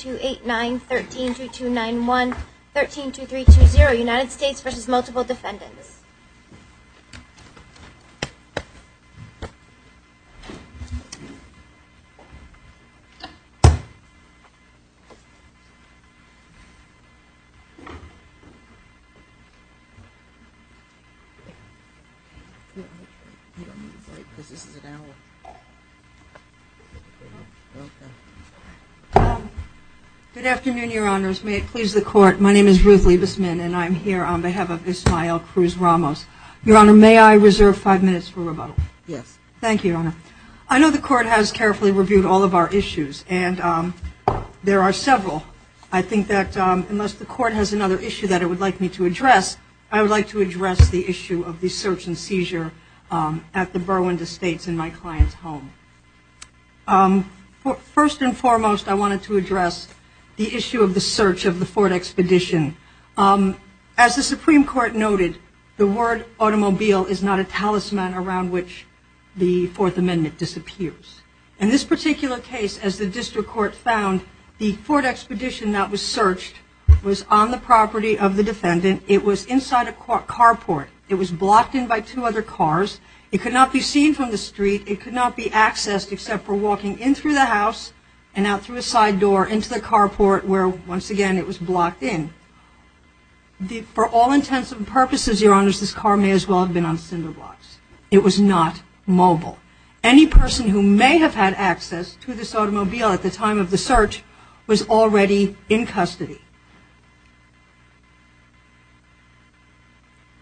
289-13-3291, 13-23-20, United States v. Multiple Defendants. Good afternoon, Your Honors. May it please the Court, my name is Ruth Liebesman and I'm here on behalf of Ismael Cruz-Ramos. Your Honor, may I reserve five minutes for rebuttal? Thank you, Your Honor. I know the Court has carefully reviewed all of our issues and there are several. I think that unless the Court has another issue that it would like me to address, I would like to address the issue of the search and seizure at the Burwinder States in my client's home. First and foremost, I wanted to address the issue of the search of the Ford Expedition. As the Supreme Court noted, the word automobile is not a talisman around which the Fourth Amendment disappears. In this particular case, as the District Court found, the Ford Expedition that was searched was on the property of the defendant. It was inside a carport. It was blocked in by two other cars. It could not be seen from the street. It could not be accessed except for walking in through the house and out through a side door into the carport where, once again, it was blocked in. For all intents and purposes, Your Honors, this car may as well have been on cinder blocks. It was not mobile. Any person who may have had access to this automobile at the time of the search was already in custody.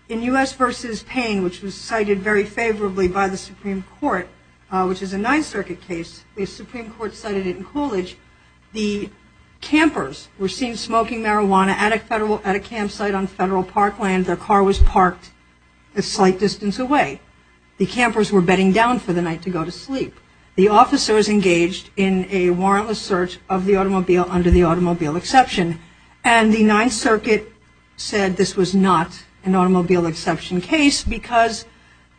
In U.S. v. Payne, which was cited very favorably by the Supreme Court, which is a Ninth Circuit case, the Supreme Court cited it in Coolidge. The campers were seen smoking marijuana at a campsite on federal parkland. Their car was parked a slight distance away. The campers were bedding down for the night to go to sleep. The officers engaged in a warrantless search of the automobile under the automobile exception. And the Ninth Circuit said this was not an automobile exception case because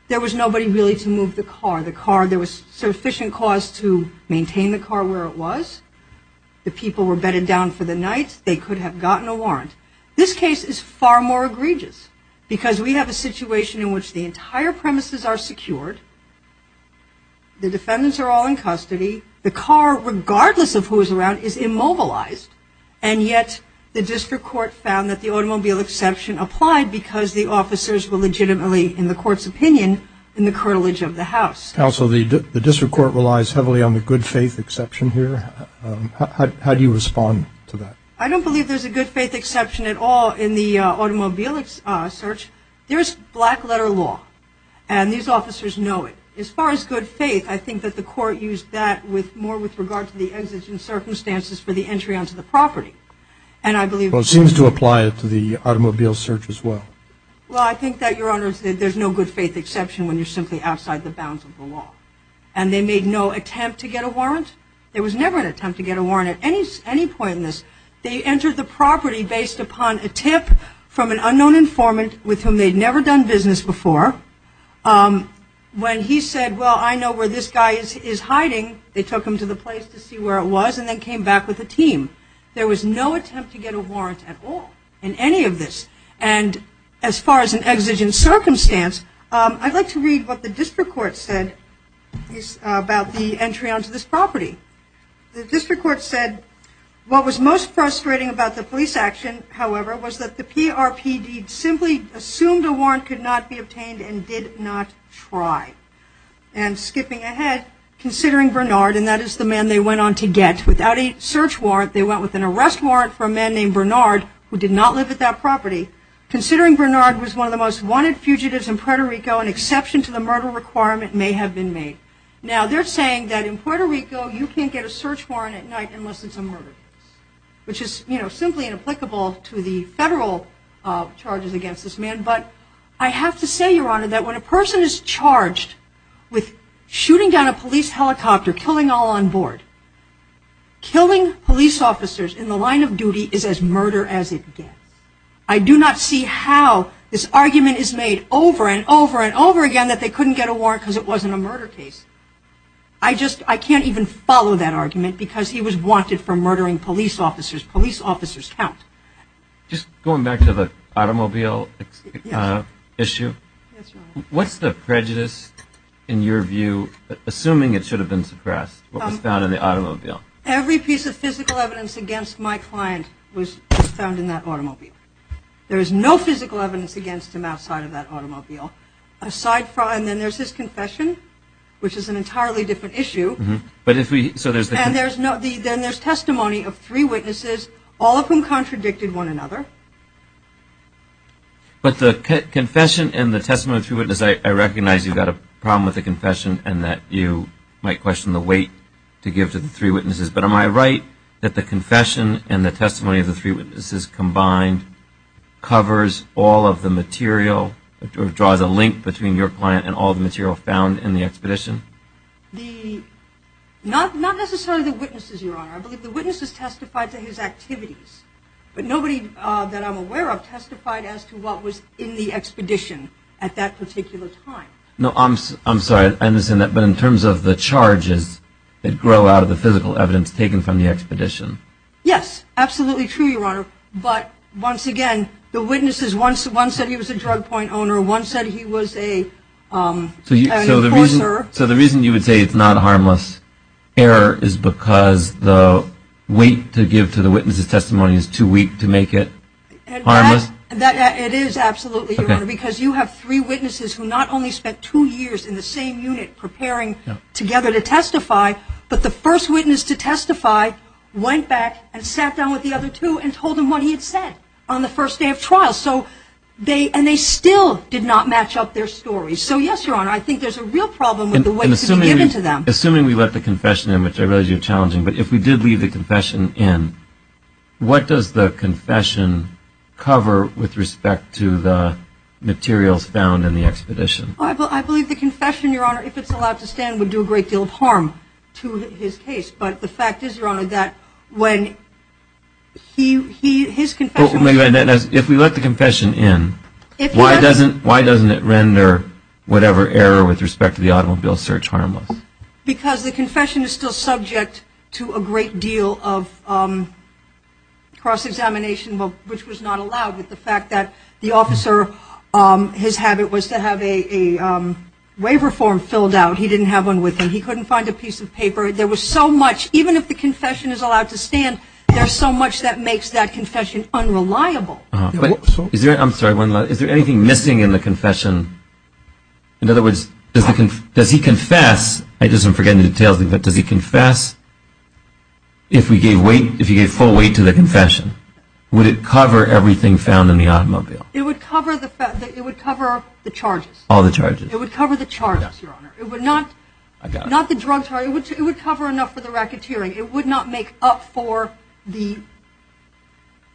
there was nobody really to move the car. There was sufficient cause to maintain the car where it was. The people were bedded down for the night. They could have gotten a warrant. This case is far more egregious because we have a situation in which the entire premises are secured. The defendants are all in custody. The car, regardless of who is around, is immobilized. And yet, the district court found that the automobile exception applied because the officers were legitimately, in the court's opinion, in the curtilage of the house. Counsel, the district court relies heavily on the good faith exception here. How do you respond to that? I don't believe there's a good faith exception at all in the automobile search. There's black letter law. And these officers know it. As far as good faith, I think that the court used that more with regard to the entrance and circumstances for the entry onto the property. Well, it seems to apply to the automobile search as well. Well, I think that, Your Honor, there's no good faith exception when you're simply outside the bounds of the law. And they made no attempt to get a warrant. There was never an attempt to get a warrant at any point in this. They entered the property based upon a tip from an unknown informant with whom they'd never done business before. When he said, well, I know where this guy is hiding, they took him to the place to see where it was and then came back with a team. There was no attempt to get a warrant at all in any of this. And as far as an exigent circumstance, I'd like to read what the district court said about the entry onto this property. The district court said, what was most frustrating about the police action, however, was that the PRPD simply assumed a warrant could not be obtained and did not try. And skipping ahead, considering Bernard, and that is the man they went on to get, without a search warrant, they went with an arrest warrant for a man named Bernard who did not live at that property. Considering Bernard was one of the most wanted fugitives in Puerto Rico, an exception to the murder requirement may have been made. Now, they're saying that in Puerto Rico, you can't get a search warrant at night unless it's a murder, which is simply inapplicable to the federal charges against this man. But I have to say, Your Honor, that when a person is charged with shooting down a police helicopter, killing all on board, killing police officers in the line of duty is as murder as it gets. I do not see how this argument is made over and over and over again that they couldn't get a warrant because it wasn't a murder case. I just, I can't even follow that argument because he was wanted for murdering police officers. Police officers count. Just going back to the automobile issue, what's the prejudice in your view, assuming it should have been suppressed, what was found in the automobile? Every piece of physical evidence against my client was found in that automobile. There is no physical evidence against him outside of that automobile. Aside from, and there's his confession, which is an entirely different issue. But if we, so there's... And there's not, then there's testimony of three witnesses, all of whom contradicted one another. But the confession and the testimony of three witnesses, I recognize you've got a problem with the confession and that you might question the weight to give to the three witnesses. But am I right that the confession and the testimony of the three witnesses combined covers all of the material, or draws a link between your client and all the material found in the expedition? The, not necessarily the witnesses, Your Honor. I believe the witnesses testified to his activities. But nobody that I'm aware of testified as to what was in the expedition at that particular time. No, I'm sorry, I understand that. But in terms of the charges that grow out of the physical evidence taken from the expedition? Yes, absolutely true, Your Honor. But once again, the witnesses, one said he was a drug point owner, one said he was an enforcer. So the reason you would say it's not a harmless error is because the weight to give to the witness of testimony is too weak to make it harmless? It is absolutely, Your Honor, because you have three witnesses who not only spent two years in the same unit preparing together to testify, but the first witness to testify went back and sat down with the other two and told them what he had said on the first day of trial. So they, and they still did not match up their stories. So yes, Your Honor, I think there's a real problem with the weight to give to them. Assuming we let the confession in, which I realize you're challenging, but if we did leave the confession in, what does the confession cover with respect to the materials found in the expedition? I believe the confession, Your Honor, if it's allowed to stand, would do a great deal of harm to his case. But the fact is, Your Honor, that when he, his confession... If we let the confession in, why doesn't it render whatever error with respect to the automobile search harmless? Because the confession is still subject to a great deal of cross-examination, which was not allowed with the fact that the officer, his habit was to have a waiver form filled out. He didn't have one with him. He couldn't find a piece of paper. There was so much, even if the confession is allowed to stand, there's so much that makes that confession unreliable. I'm sorry, one last, is there anything missing in the confession? In other words, does he confess, I just didn't forget any details, but does he confess if he gave full weight to the confession? Would it cover everything found in the automobile? It would cover the charges. All the charges. It would cover the charges, Your Honor. It would not... I got it. Not the drugs, it would cover enough for the racketeering. It would not make up for the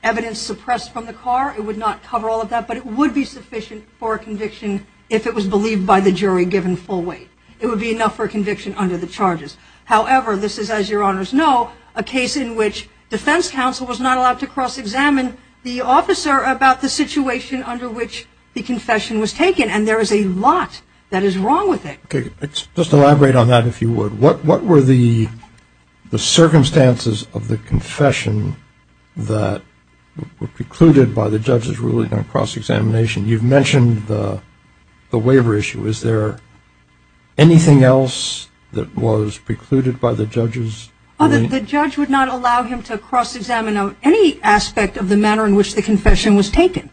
evidence suppressed from the car. It would not cover all of that, but it would be sufficient for a conviction if it was believed by the jury given full weight. It would be enough for a conviction under the charges. However, this is, as Your Honors know, a case in which defense counsel was not allowed to cross-examine the officer about the situation under which the confession was taken, and there is a lot that is wrong with it. Let's elaborate on that a few words. What were the circumstances of the confession that were precluded by the judge's ruling on cross-examination? You've mentioned the waiver issue. Is there anything else that was precluded by the judge's ruling? The judge would not allow him to cross-examine any aspect of the manner in which the confession was taken,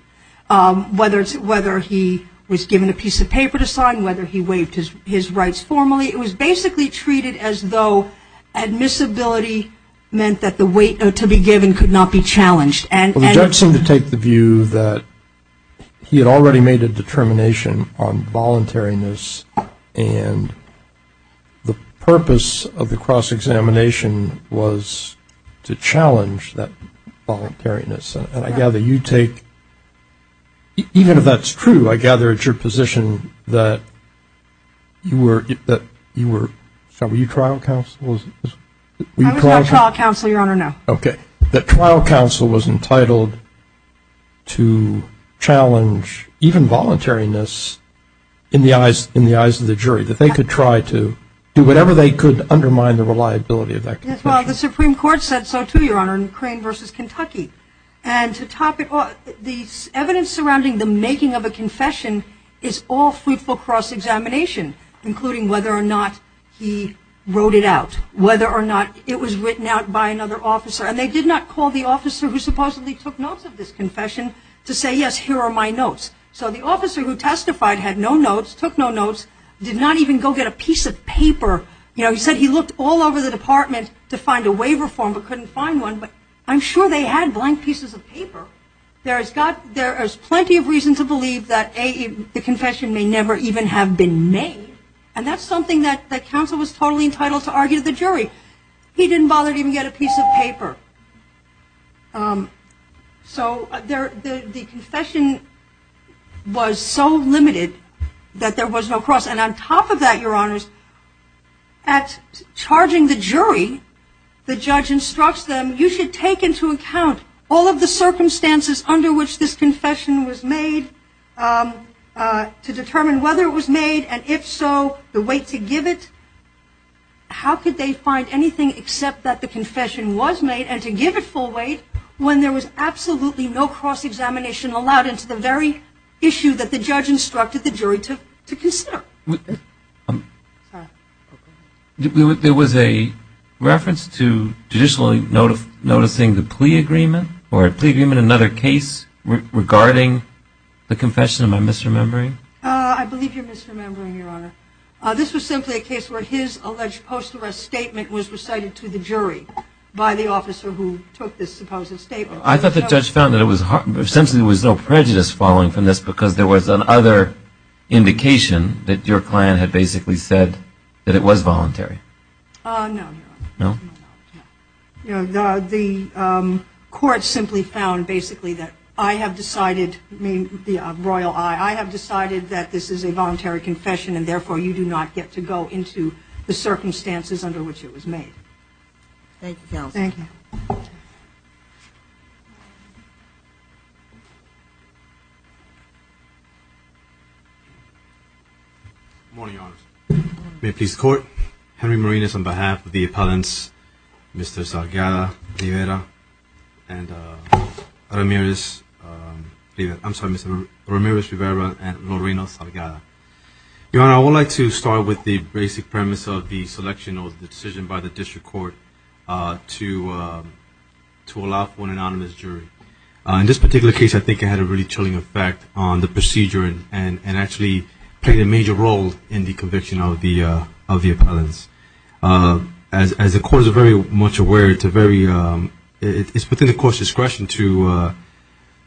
whether he was given a piece of paper to sign, whether he waived his rights formally. It was basically treated as though admissibility meant that the weight to be given could not be challenged. Well, the judge seemed to take the view that he had already made a determination on voluntariness, and the purpose of the cross-examination was to challenge that voluntariness. I gather you take, even if that's true, I gather it's your position that you were, were you trial counsel? I was not trial counsel, Your Honor, no. Okay. That trial counsel was entitled to challenge even voluntariness in the eyes of the jury, that they could try to do whatever they could to undermine the reliability of that confession. Well, the Supreme Court said so too, Your Honor, in Crane v. Kentucky. And the evidence surrounding the making of a confession is all fruitful cross-examination, including whether or not he wrote it out, whether or not it was written out by another officer. And they did not call the officer who supposedly took notes of this confession to say, yes, here are my notes. So the officer who testified had no notes, took no notes, did not even go get a piece of paper. You know, he said he looked all over the department to find a waiver form but couldn't find one. But I'm sure they had blank pieces of paper. There is plenty of reason to believe that the confession may never even have been made. And that's something that counsel was totally entitled to argue to the jury. He didn't bother to even get a piece of paper. So the confession was so limited that there was no cross. And on top of that, Your Honors, at charging the jury, the judge instructs them, you should take into account all of the circumstances under which this confession was made to determine whether it was made, and if so, the weight to give it. How could they find anything except that the confession was made and to give it full weight when there was absolutely no cross-examination allowed. It's the very issue that the judge instructed the jury to consider. There was a reference to traditionally noticing the plea agreement, or a plea agreement in another case regarding the confession of my misremembering? I believe you're misremembering, Your Honor. This was simply a case where his alleged post-arrest statement was recited to the jury by the officer who took this supposed statement. I thought the judge found that there was essentially no prejudice following from this because there was another indication that your client had basically said that it was voluntary. No. The court simply found basically that I have decided, I mean the royal I, I have decided that this is a voluntary confession and therefore you do not get to go into the circumstances under which it was made. Thank you, Your Honor. Thank you. Good morning, Your Honor. May it please the court, Henry Marinas on behalf of the appellants, Mr. Salgada, Rivera, and Ramirez, I'm sorry, Mr. Ramirez, Rivera, and Lorena Salgada. Your Honor, I would like to start with the basic premise of the selection of the decision by the district court to allow for an anonymous jury. In this particular case, I think it had a really chilling effect on the procedure and actually played a major role in the conviction of the appellants. As the court is very much aware, it's within the court's discretion to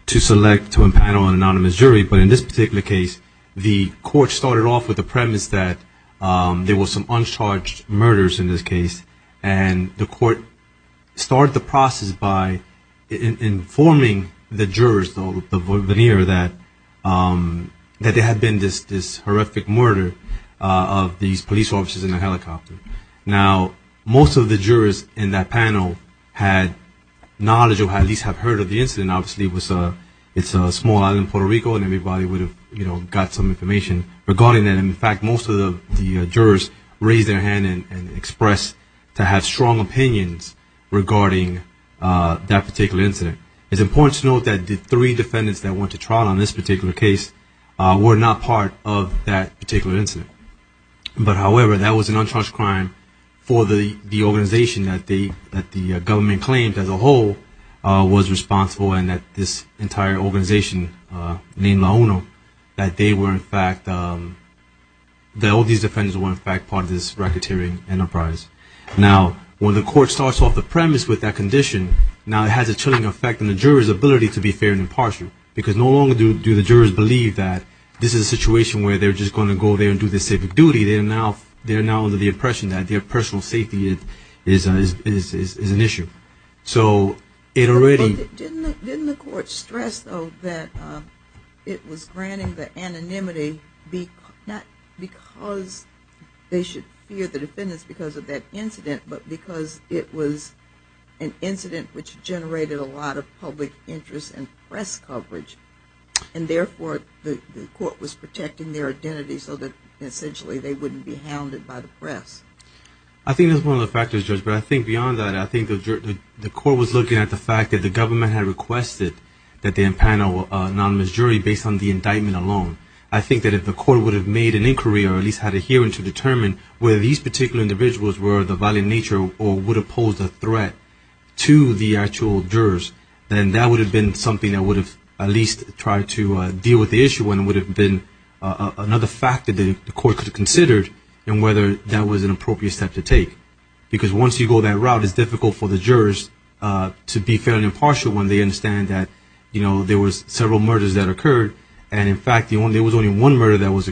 select, to impanel an anonymous jury, but in this particular case, the court started off with the premise that there were some uncharged murders in this case and the court started the process by informing the jurors, the veneer, that there had been this horrific murder of these police officers in a helicopter. Now, most of the jurors in that panel had knowledge or at least had heard of the incident. Obviously, it's a small island in Puerto Rico and everybody would have got some information regarding that. In fact, most of the jurors raised their hand and expressed to have strong opinions regarding that particular incident. It's important to note that the three defendants that went to trial on this particular case were not part of that particular incident. However, that was an uncharged crime for the organization that the government claims as a whole was responsible and that this entire organization named Laona, that all these defendants were in fact part of this racketeering enterprise. Now, when the court starts off the premise with that condition, it had a chilling effect on the jurors' ability to be fair and impartial because no longer do the jurors believe that this is a situation where they're just going to go there and do their civic duty. They're now under the impression that their personal safety is an issue. Didn't the court stress, though, that it was granting the anonymity not because they should fear the defendants because of that incident, but because it was an incident which generated a lot of public interest in press coverage and therefore the court was protecting their identity so that essentially they wouldn't be hounded by the press? I think that's one of the factors, Judge, but I think beyond that, I think the court was looking at the fact that the government had requested that they impound an anonymous jury based on the indictment alone. I think that if the court would have made an inquiry or at least had a hearing to determine whether these particular individuals were of the violent nature or would have posed a threat to the actual jurors, then that would have been something that would have at least tried to deal with the issue and would have been another factor that the court could have considered and whether that was an appropriate step to take. Because once you go that route, it's difficult for the jurors to be fair and impartial when they understand that there were several murders that occurred and, in fact, there was only one murder that was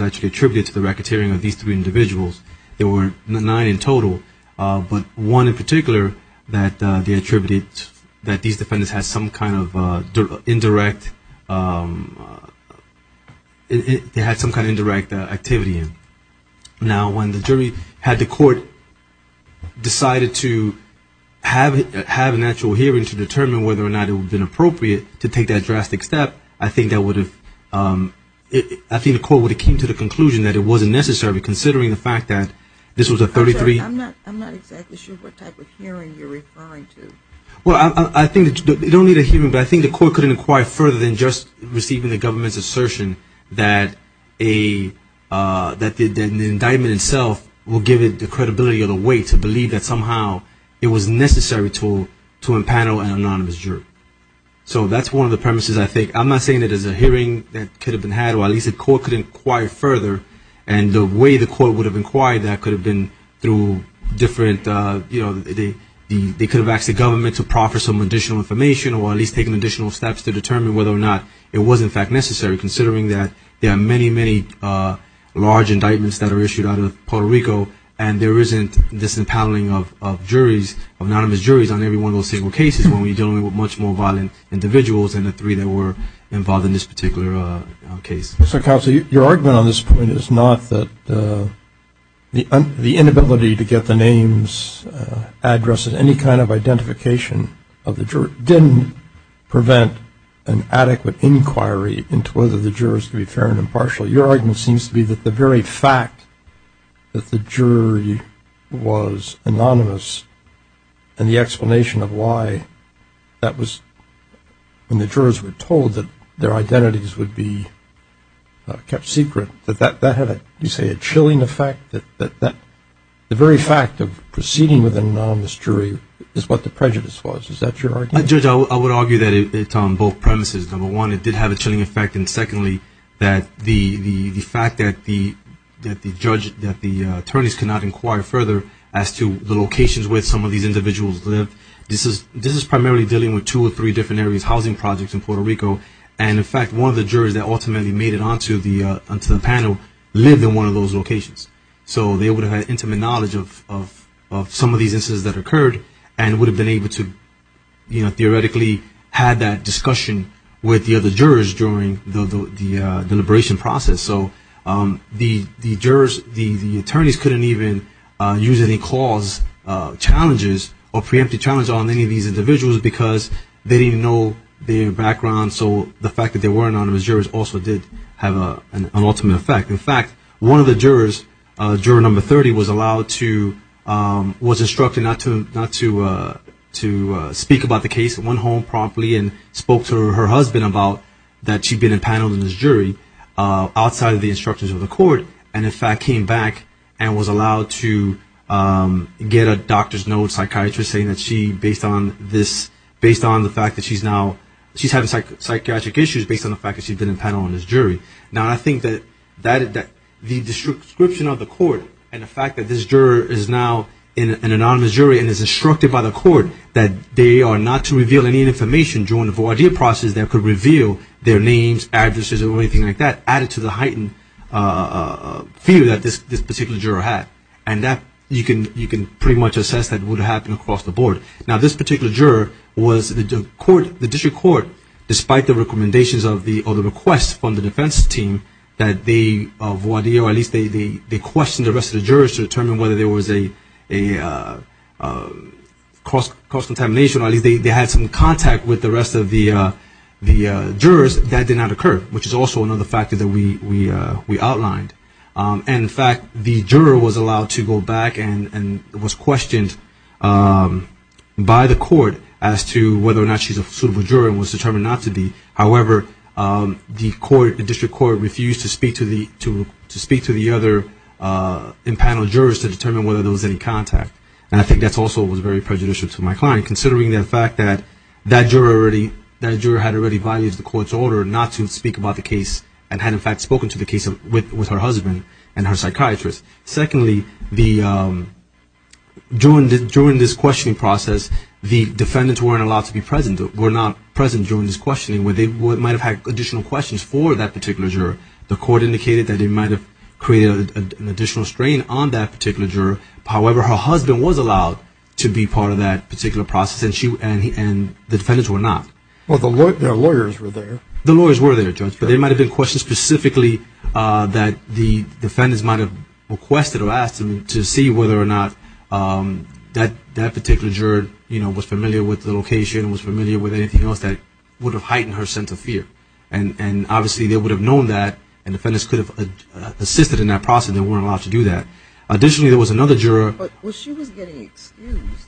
actually attributed to the racketeering of these three individuals. There were nine in total, but one in particular that they attributed that these defendants had some kind of indirect activity in. Now, when the jury had the court decided to have an actual hearing to determine whether or not it would have been appropriate to take that drastic step, I think the court would have came to the conclusion that it wasn't necessary, considering the fact that this was a 33- I'm not exactly sure what type of hearing you're referring to. Well, I think the court couldn't inquire further than just receiving the government's assertion that the indictment itself will give it the credibility of the way to believe that somehow it was necessary to impanel an anonymous jury. So that's one of the premises, I think. I'm not saying that there's a hearing that could have been had, or at least the court could inquire further, and the way the court would have inquired that could have been through different- they could have asked the government to proffer some additional information or at least taken additional steps to determine whether or not it was, in fact, necessary, considering that there are many, many large indictments that are issued out of Puerto Rico and there isn't this impaneling of anonymous juries on every one of those single cases when we're dealing with much more violent individuals than the three that were involved in this particular case. So, Counselor, your argument on this point is not that the inability to get the names, addresses, any kind of identification of the jurors didn't prevent an adequate inquiry into whether the jurors could be fair and impartial. Your argument seems to be that the very fact that the jury was anonymous and the explanation of why that was- when the jurors were told that their identities would be kept secret, that that had, you say, a chilling effect, that the very fact of proceeding with an anonymous jury is what the prejudice was. Is that your argument? Judge, I would argue that it's on both premises. Number one, it did have a chilling effect, and secondly, that the fact that the attorneys could not inquire further as to the locations where some of these individuals lived. This is primarily dealing with two or three different areas, housing projects in Puerto Rico, and, in fact, one of the jurors that ultimately made it onto the panel lived in one of those locations. So they would have had intimate knowledge of some of these instances that occurred and would have been able to theoretically have that discussion with the other jurors during the deliberation process. So the attorneys couldn't even use any clause challenges or preemptive challenges on any of these individuals because they didn't know their background, so the fact that they weren't anonymous jurors also did have an ultimate effect. In fact, one of the jurors, juror number 30, was instructed not to speak about the case, went home promptly and spoke to her husband about that she'd been impaneled in this jury outside of the instructions of the court and, in fact, came back and was allowed to get a doctor's note, psychiatrist's note, saying that she's having psychiatric issues based on the fact that she's been impaneled in this jury. Now, I think that the description of the court and the fact that this juror is now an anonymous juror and is instructed by the court that they are not to reveal any information during the V.I.D. process that could reveal their names, addresses, or anything like that, added to the heightened fear that this particular juror had, and that you can pretty much assess that would happen across the board. Now, this particular juror was the district court, despite the recommendations or the requests from the defense team, that they question the rest of the jurors to determine whether there was a cross-contamination or they had some contact with the rest of the jurors. That did not occur, which is also another factor that we outlined. And, in fact, the juror was allowed to go back and was questioned by the court as to whether or not she's a suitable juror and was determined not to be. However, the district court refused to speak to the other impaneled jurors to determine whether there was any contact, and I think that also was very prejudicial to my client, considering the fact that that juror had already violated the court's order not to speak about the case and had, in fact, spoken to the case with her husband and her psychiatrist. Secondly, during this questioning process, the defendants weren't allowed to be present, were not present during this questioning, where they might have had additional questions for that particular juror. The court indicated that they might have created an additional strain on that particular juror. However, her husband was allowed to be part of that particular process, and the defendants were not. Well, their lawyers were there. Their lawyers were there, Judge, but there might have been questions specifically that the defendants might have requested or asked them to see whether or not that particular juror was familiar with the location, was familiar with anything else that would have heightened her sense of fear. And, obviously, they would have known that, and defendants could have assisted in that process and weren't allowed to do that. Additionally, there was another juror. But was she getting excused?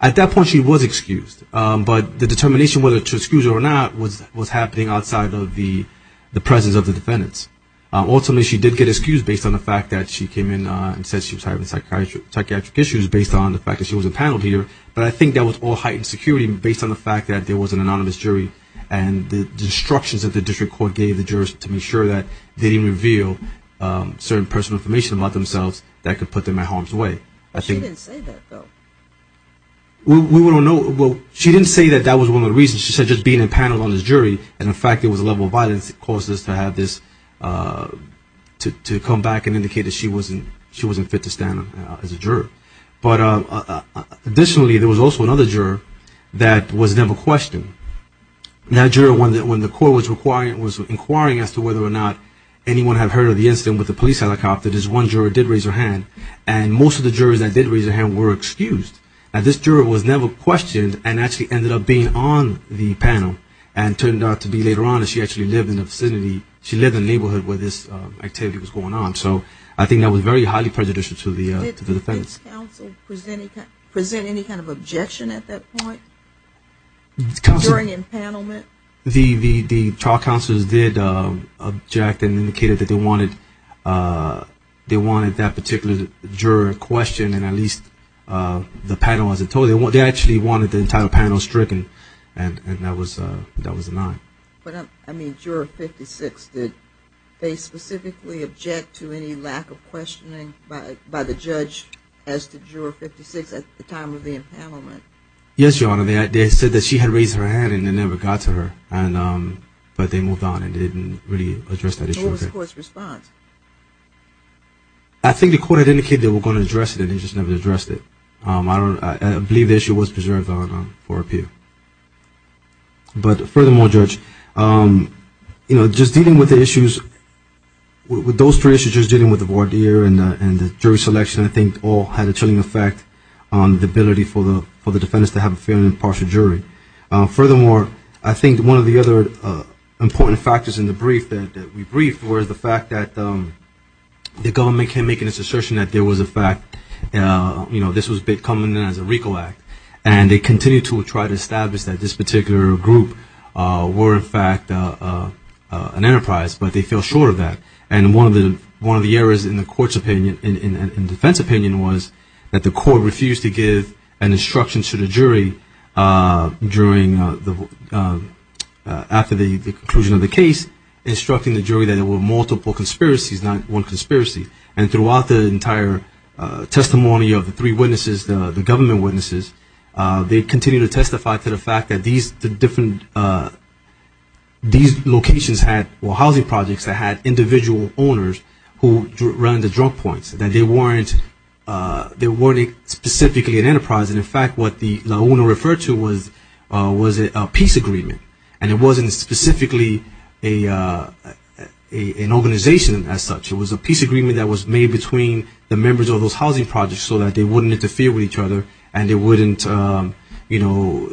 At that point, she was excused, but the determination whether to excuse her or not was happening outside of the presence of the defendants. Ultimately, she did get excused based on the fact that she came in and said she was having psychiatric issues based on the fact that she was a panel leader, but I think that was all heightened security based on the fact that there was an anonymous jury and the instructions that the district court gave the jurors to make sure that they didn't reveal certain personal information about themselves that could put them at harm's way. You didn't say that, though. Well, she didn't say that that was one of the reasons. She said just being a panel on the jury and the fact it was a level of violence caused us to have this to come back and indicate that she wasn't fit to stand as a juror. But, additionally, there was also another juror that was never questioned. That juror, when the court was inquiring as to whether or not anyone had heard of the incident with the police helicopter, there was one juror that did raise her hand, and most of the jurors that did raise their hand were excused. This juror was never questioned and actually ended up being on the panel and it turned out to be later on that she actually lived in the neighborhood where this activity was going on. So I think that was very highly prejudicial to the defendants. Did the police counsel present any kind of objection at that point during empanelment? The trial counselors did object and indicated that they wanted that particular juror questioned and at least the panel wasn't told. They actually wanted the entire panel stricken and that was the line. But, I mean, Juror 56, did they specifically object to any lack of questioning by the judge as to Juror 56 at the time of the empanelment? Yes, Your Honor. They said that she had raised her hand and it never got to her, but they moved on and didn't really address that issue. What did the courts respond? I think the court indicated they were going to address it and they just never addressed it. I believe the issue was preserved for appeal. But furthermore, Judge, you know, just dealing with the issues, with those prejudices, just dealing with the voir dire and the jury selection, I think all had a chilling effect on the ability for the defendants to have a fair and impartial jury. Furthermore, I think one of the other important factors in the brief that we briefed were the fact that the government came making this assertion that there was a fact, you know, this was becoming a RICO Act. And they continue to try to establish that this particular group were in fact an enterprise, but they feel short of that. And one of the errors in the defense opinion was that the court refused to give an instruction to the jury after the conclusion of the case, instructing the jury that there were multiple conspiracies, not one conspiracy. And throughout the entire testimony of the three witnesses, the government witnesses, they continue to testify to the fact that these locations had, or housing projects, that had individual owners who ran the drug points, that they weren't specifically an enterprise. And in fact, what the owner referred to was a peace agreement. And it wasn't specifically an organization as such. It was a peace agreement that was made between the members of those housing projects so that they wouldn't interfere with each other and they wouldn't, you know,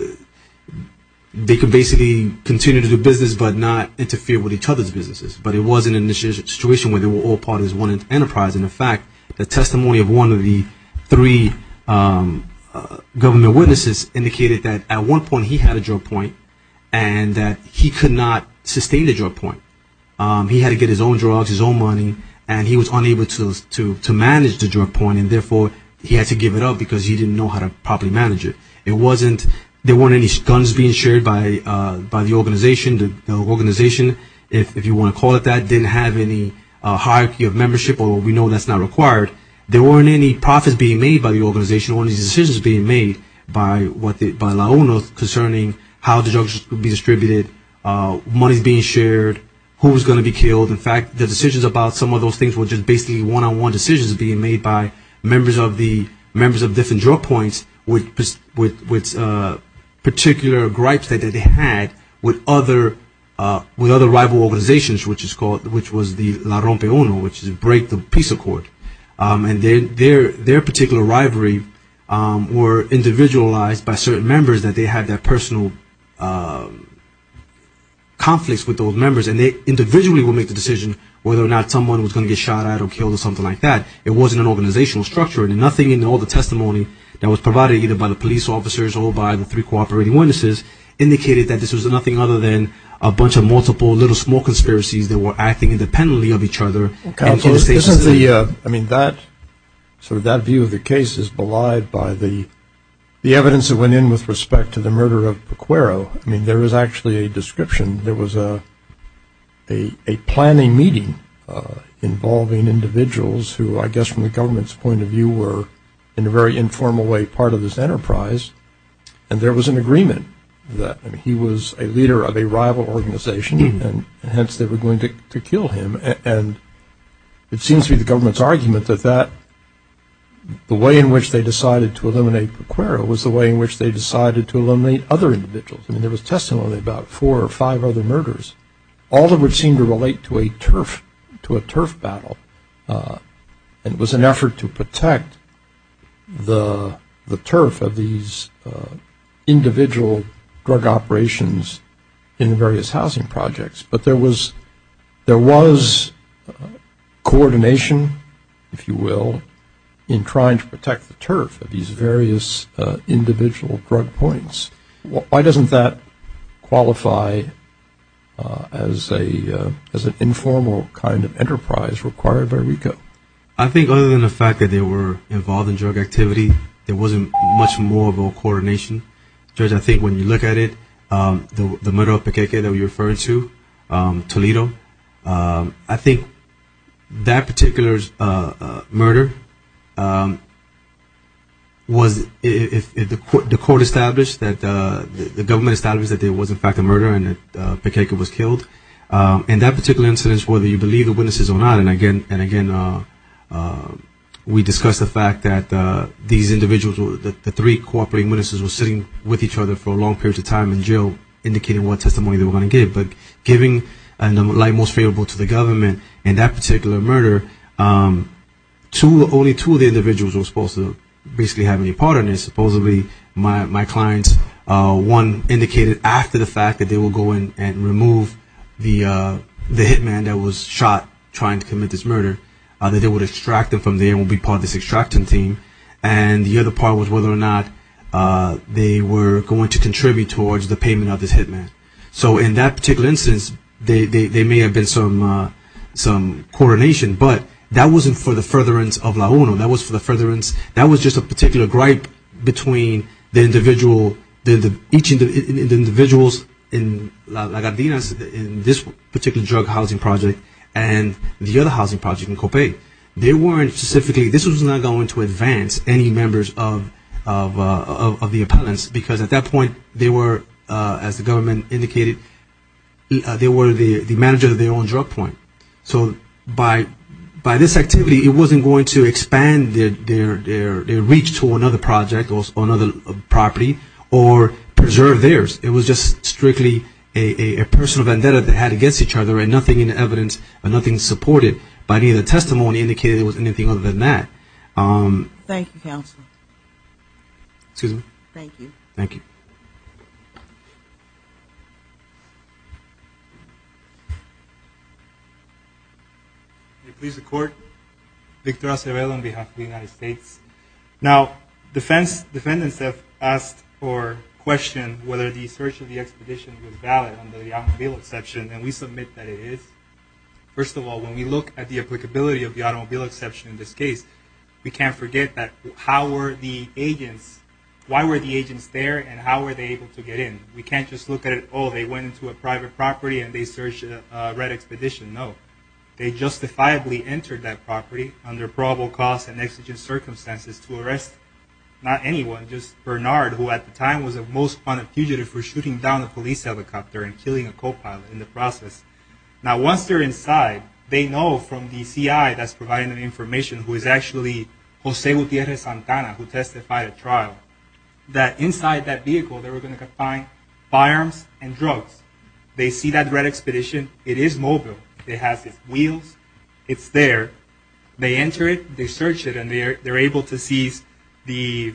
they could basically continue to do business but not interfere with each other's businesses. But it wasn't in the situation where they were all part of one enterprise. And in fact, the testimony of one of the three government witnesses indicated that at one point he had a drug point and that he could not sustain a drug point. He had to get his own drugs, his own money, and he was unable to manage the drug point. And therefore, he had to give it up because he didn't know how to properly manage it. There weren't any stunts being shared by the organization. The organization, if you want to call it that, didn't have any hierarchy of membership, although we know that's not required. There weren't any profits being made by the organization. There weren't any decisions being made by the owner concerning how the drugs would be distributed, money being shared, who was going to be killed. In fact, the decisions about some of those things were just basically one-on-one decisions being made by members of different drug points with particular gripes that they had with other rival organizations, which was the La Rompe Uno, which is Break the Peace Accord. And their particular rivalry were individualized by certain members that they had their personal conflicts with those members. And they individually would make the decision whether or not someone was going to get shot at or killed or something like that. It wasn't an organizational structure. Nothing in all the testimony that was provided either by the police officers or by the three cooperating witnesses indicated that this was nothing other than a bunch of multiple little small conspiracies that were acting independently of each other. I mean, that view of the case is belied by the evidence that went in with respect to the murder of Pequero. I mean, there is actually a description. There was a planning meeting involving individuals who I guess from the government's point of view were in a very informal way part of this enterprise. And there was an agreement that he was a leader of a rival organization, and hence they were going to kill him. And it seems to be the government's argument that the way in which they decided to eliminate Pequero was the way in which they decided to eliminate other individuals. I mean, there was testimony about four or five other murders. All of it seemed to relate to a turf battle. And it was an effort to protect the turf of these individual drug operations in various housing projects. But there was coordination, if you will, in trying to protect the turf of these various individual drug points. Why doesn't that qualify as an informal kind of enterprise required by RICO? I think other than the fact that they were involved in drug activity, there wasn't much more of a coordination. Because I think when you look at it, the murder of Pequeque that we referred to, Toledo, I think that particular murder was the court established that the government established that it was in fact a murder and that Pequeque was killed. And that particular incident is whether you believe the witnesses or not. And, again, we discussed the fact that these individuals, the three cooperating witnesses, were sitting with each other for a long period of time in jail indicating what testimony they were going to give. But giving the light most favorable to the government in that particular murder, only two of the individuals were supposed to basically have any part in this. One indicated after the fact that they were going to remove the hitman that was shot trying to commit this murder, that they would extract him from there and would be part of this extracting team. And the other part was whether or not they were going to contribute towards the payment of this hitman. So in that particular instance, there may have been some coordination. But that wasn't for the furtherance of La Juna. That wasn't for the furtherance. That was just a particular gripe between the individuals in Lagardinas in this particular drug housing project and the other housing project in Copay. They weren't specifically, this was not going to advance any members of the opponents because at that point they were, as the government indicated, they were the manager of their own drug point. So by this activity, it wasn't going to expand their reach to another project or another property or preserve theirs. It was just strictly a personal vendetta they had against each other and nothing in the evidence or nothing to support it. But either testimony indicated it was anything other than that. Thank you, Counselor. Excuse me? Thank you. Thank you. Please record. Victor Acevedo on behalf of the United States. Now, defendants have asked or questioned whether the search of the expedition was valid under the automobile exception. And we submit that it is. First of all, when we look at the applicability of the automobile exception in this case, we can't forget that how were the agents, why were the agents there and how were they able to get in? We can't just look at it, oh, they went into a private property and they searched a red expedition. No. They justifiably entered that property under probable cause and exigent circumstances to arrest not anyone, just Bernard, who at the time was the most wanted fugitive for shooting down a police helicopter and killing a copilot in the process. Now, once they're inside, they know from the CI that's providing the information, who is actually Jose Gutierrez Santana, who testified at trial, that inside that vehicle they were going to find firearms and drugs. They see that red expedition. It is mobile. They have the wheels. It's there. They enter it. They search it. And they're able to see the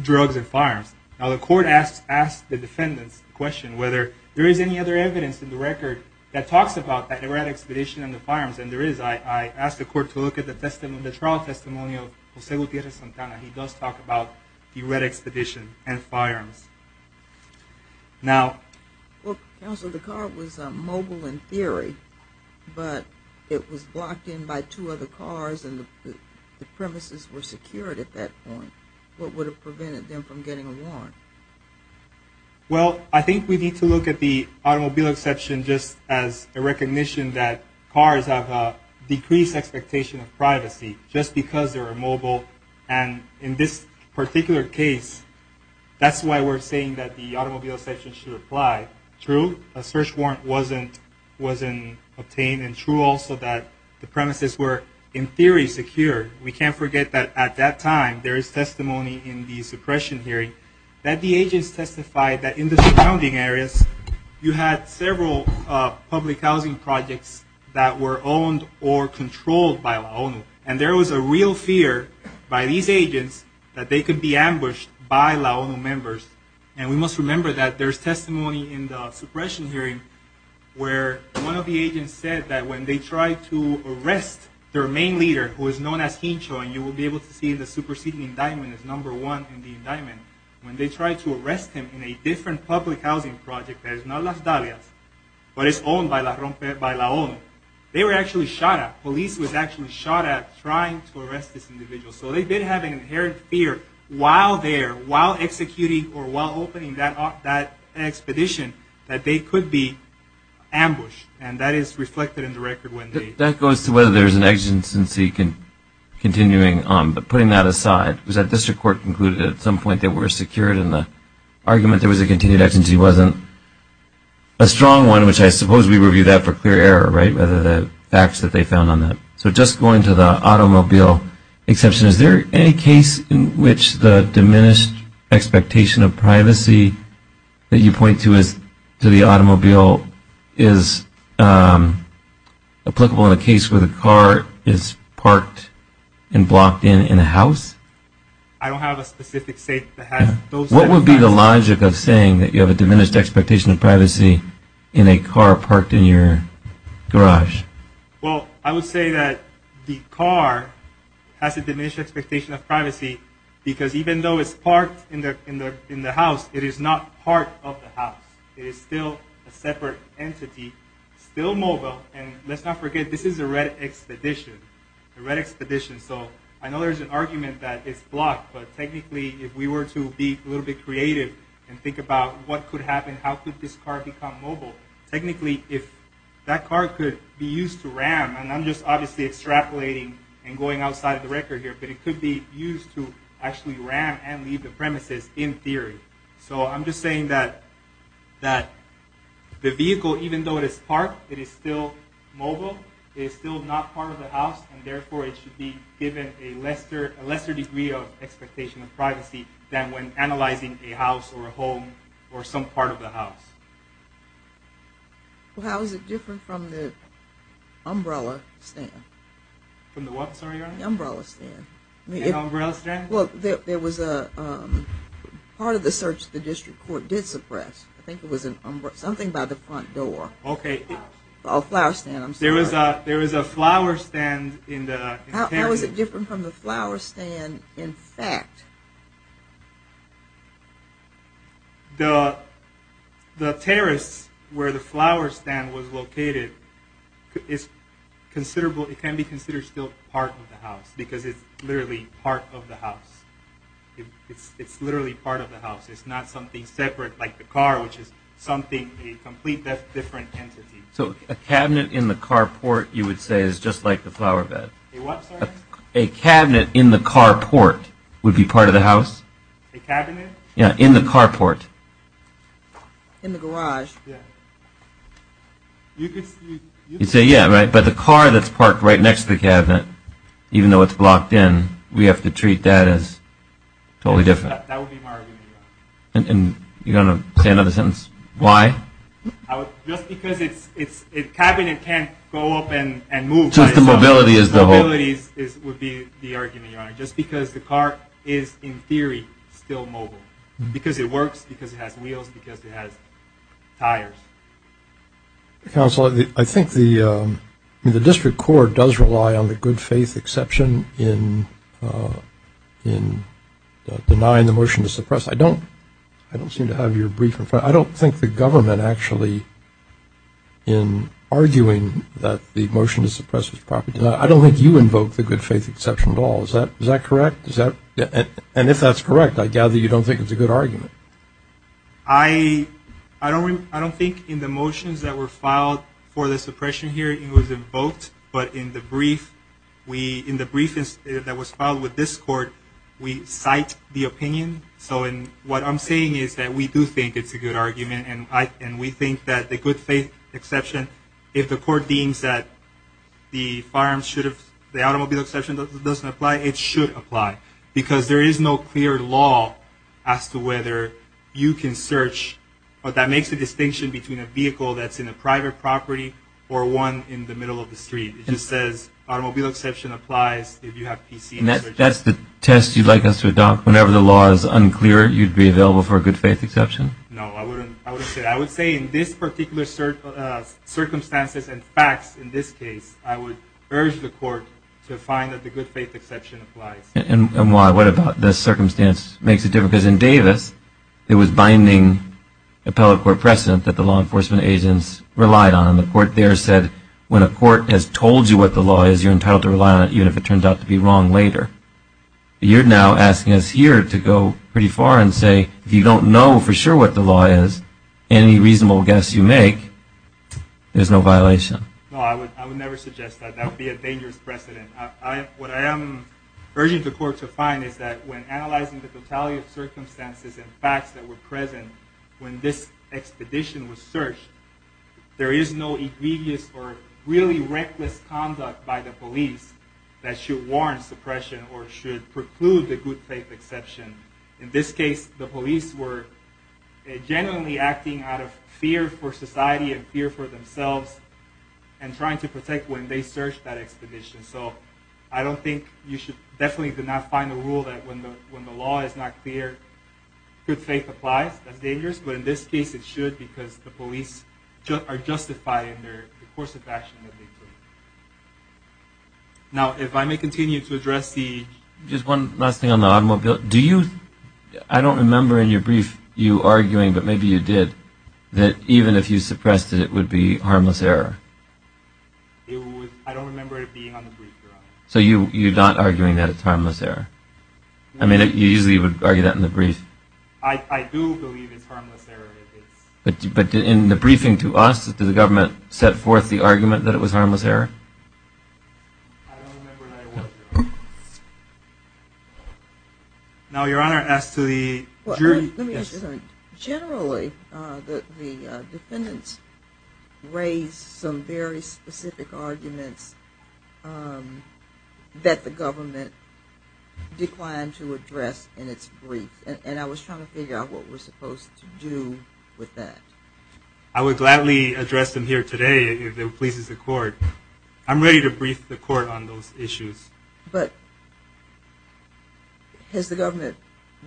drugs and firearms. Now, the court asked the defendants a question whether there is any other evidence in the record that talks about that red expedition and the firearms. And there is. I asked the court to look at the trial testimonial of Jose Gutierrez Santana. He does talk about the red expedition and firearms. Now... Counsel, the car was mobile in theory, but it was blocked in by two other cars and the premises were secured at that point. What would have prevented them from getting a warrant? Well, I think we need to look at the automobile exception just as a recognition that cars have a decreased expectation of privacy just because they're mobile. And in this particular case, that's why we're saying that the automobile exception should apply. True, a search warrant wasn't obtained. And true also that the premises were in theory secured. We can't forget that at that time there is testimony in the suppression hearing that the agents testified that in the surrounding areas you had several public housing projects that were owned or controlled by LAONU. And there was a real fear by these agents that they could be ambushed by LAONU members. And we must remember that there is testimony in the suppression hearing where one of the agents said that when they tried to arrest their main leader, who is known as Hincho, and you will be able to see the superseding indictment as number one in the indictment. When they tried to arrest him in a different public housing project that is not Las Dalias, but it's owned by LAONU, they were actually shot at. Police was actually shot at trying to arrest this individual. So they did have an inherent fear while there, while executing, or while opening that expedition that they could be ambushed. And that is reflected in the record when they... That goes to whether there's an exigency continuing on. But putting that aside, was that district court concluded at some point that we're secured and the argument there was a continued exigency wasn't a strong one, which I suppose we reviewed that for clear error, right, the facts that they found on that. So just going to the automobile exception, is there any case in which the diminished expectation of privacy that you point to to the automobile is applicable in a case where the car is parked and blocked in in a house? I don't have a specific case that has those... What would be the logic of saying that you have a diminished expectation of privacy in a car parked in your garage? Well, I would say that the car has a diminished expectation of privacy because even though it's parked in the house, it is not part of the house. It is still a separate entity, still mobile. And let's not forget, this is a red expedition, a red expedition. So I know there's an argument that it's blocked, but technically if we were to be a little bit creative and think about what could happen, how could this car become mobile? Technically, if that car could be used to ram, and I'm just obviously extrapolating and going outside the record here, but it could be used to actually ram and leave the premises in theory. So I'm just saying that the vehicle, even though it is parked, it is still mobile, it is still not part of the house, than when analyzing a house or a home or some part of the house. How is it different from the umbrella stand? From the what, sorry? The umbrella stand. The umbrella stand? Well, there was a... Part of the search the district court did suppress. I think it was something by the front door. Okay. A flower stand. There was a flower stand in the... How is it different from the flower stand in fact? The terrace where the flower stand was located, it can be considered still part of the house, because it's literally part of the house. It's literally part of the house. It's not something separate like the car, which is something a complete different entity. So a cabinet in the car port, you would say, is just like the flower bed. A what, sorry? A cabinet in the car port would be part of the house. A cabinet? Yeah, in the car port. In the garage. Yeah. You just... You say yeah, right? But the car that's parked right next to the cabinet, even though it's locked in, we have to treat that as totally different. That would be my argument. And you're going to say another sentence? Why? Just because a cabinet can't go up and move. Just the mobility is the whole... Mobility would be the argument, Your Honor. Just because the car is, in theory, still mobile. Because it works, because it has wheels, because it has tires. Counsel, I think the district court does rely on the good faith exception in denying the motion to suppress. I don't seem to have you brief in front. I don't think the government actually, in arguing that the motion to suppress was properly denied, I don't think you invoked the good faith exception at all. Is that correct? And if that's correct, I gather you don't think it's a good argument. I don't think in the motions that were filed for the suppression here, it was invoked. What I'm saying is that we do think it's a good argument, and we think that the good faith exception, if the court deems that the automobile exception doesn't apply, it should apply. Because there is no clear law as to whether you can search, but that makes a distinction between a vehicle that's in a private property or one in the middle of the street. It just says automobile exception applies if you have PC energy. That's the test you'd like us to adopt? Whenever the law is unclear, you'd be available for a good faith exception? No, I wouldn't say that. I would say in this particular circumstances and facts in this case, I would urge the court to find that the good faith exception applies. And why? What about the circumstances? It makes a difference. In Davis, there was binding appellate court precedent that the law enforcement agents relied on, and the court there said when a court has told you what the law is, you're entitled to rely on it even if it turns out to be wrong later. You're now asking us here to go pretty far and say if you don't know for sure what the law is, any reasonable guess you make, there's no violation. No, I would never suggest that. That would be a dangerous precedent. What I am urging the court to find is that when analyzing the fatality of circumstances and facts that were present when this expedition was searched, there is no egregious or really reckless conduct by the police that should warrant suppression or should preclude the good faith exception. In this case, the police were genuinely acting out of fear for society and fear for themselves and trying to protect when they searched that expedition. So I don't think you should definitely not find a rule that when the law is not clear, good faith applies. It's not dangerous, but in this case it should because the police are justified in their course of action. Now, if I may continue to address the... Just one last thing on the automobile. I don't remember in your brief you arguing, but maybe you did, that even if you suppressed it, it would be harmless error. I don't remember it being on the brief, Your Honor. So you're not arguing that it's harmless error. I mean, you usually would argue that in the brief. I do believe it's harmless error. But in the briefing to us, did the government set forth the argument that it was harmless error? I don't remember that. Now, Your Honor, as to the jury... Generally, the defendants raised some very specific arguments that the government declined to address in its brief. And I was trying to figure out what we're supposed to do with that. I would gladly address them here today if it pleases the court. I'm ready to brief the court on those issues. But has the government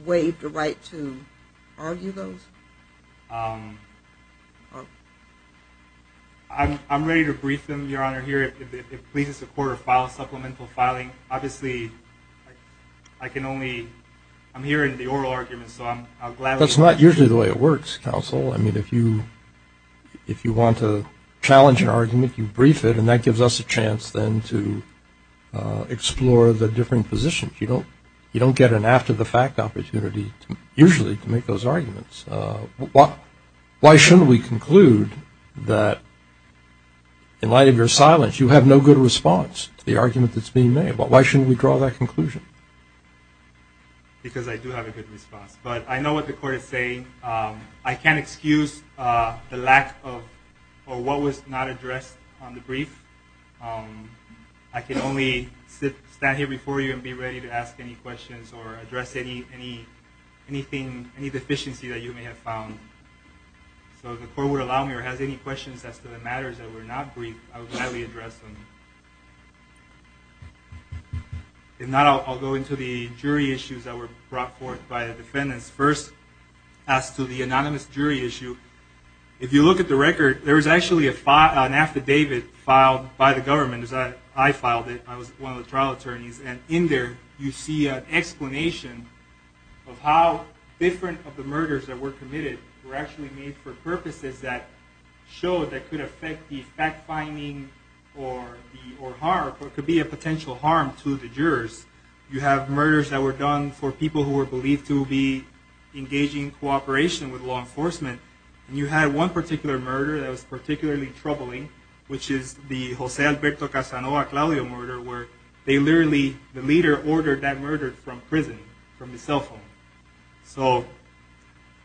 waived the right to argue those? I'm ready to brief them, Your Honor, if it pleases the court to file supplemental filing. Obviously, I can only... I'm hearing the oral arguments, so I'm glad... That's not usually the way it works, counsel. I mean, if you want to challenge an argument, you brief it, and that gives us a chance then to explore the different positions. You don't get an after-the-fact opportunity, usually, to make those arguments. Why shouldn't we conclude that, in light of your silence, you have no good response to the argument that's being made? Why shouldn't we draw that conclusion? Because I do have a good response. But I know what the court is saying. I can't excuse the lack of or what was not addressed on the brief. I can only stand here before you and be ready to ask any questions or address any deficiency that you may have found. So if the court would allow me or have any questions as to the matters that were not briefed, I would gladly address them. And now I'll go into the jury issues that were brought forth by the defendants. First, as to the anonymous jury issue, if you look at the record, there was actually an affidavit filed by the government, as I filed it. I was one of the trial attorneys. And in there, you see an explanation of how different of the murders that were committed were actually made for purposes that showed that could affect the fact-finding or harm or could be a potential harm to the jurors. You have murders that were done for people who were believed to be engaging in cooperation with law enforcement. And you had one particular murder that was particularly troubling, which is the Jose Alberto Casanova-Claudio murder, where they literally, the leader, ordered that murder from prison, from the cell phone. So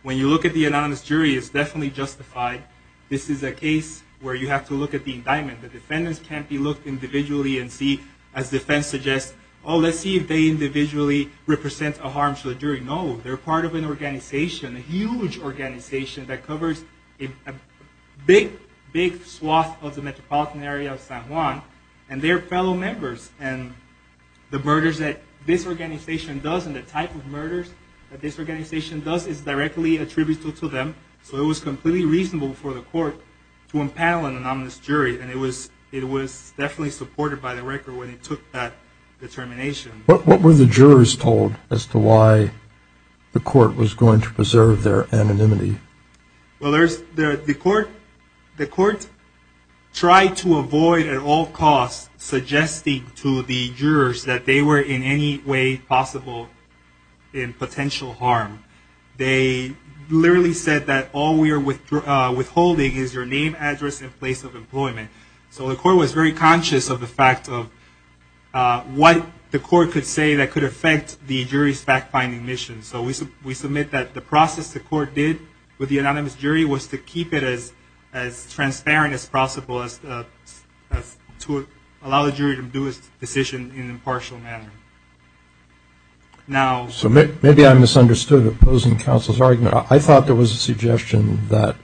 when you look at the anonymous jury, it's definitely justified. This is a case where you have to look at the indictment. The defendants can't be looked at individually and see, as defense suggests, oh, let's see if they individually represent a harm to the jury. No, they're part of an organization, a huge organization, that covers a big, big swath of the metropolitan area of San Juan. And they're fellow members. And the murders that this organization does and the type of murders that this organization does is directly attributed to them. So it was completely reasonable for the court to impound on an anonymous jury. And it was definitely supported by the record when it took that determination. What were the jurors told as to why the court was going to preserve their anonymity? Well, the court tried to avoid at all costs suggesting to the jurors that they were in any way possible in potential harm. They literally said that all we are withholding is your name, address, and place of employment. So the court was very conscious of the fact of what the court could say that could affect the jury's fact-finding mission. So we submit that the process the court did with the anonymous jury was to keep it as transparent as possible, to allow the jury to do its decision in an impartial manner. So maybe I misunderstood the opposing counsel's argument. I thought there was a suggestion that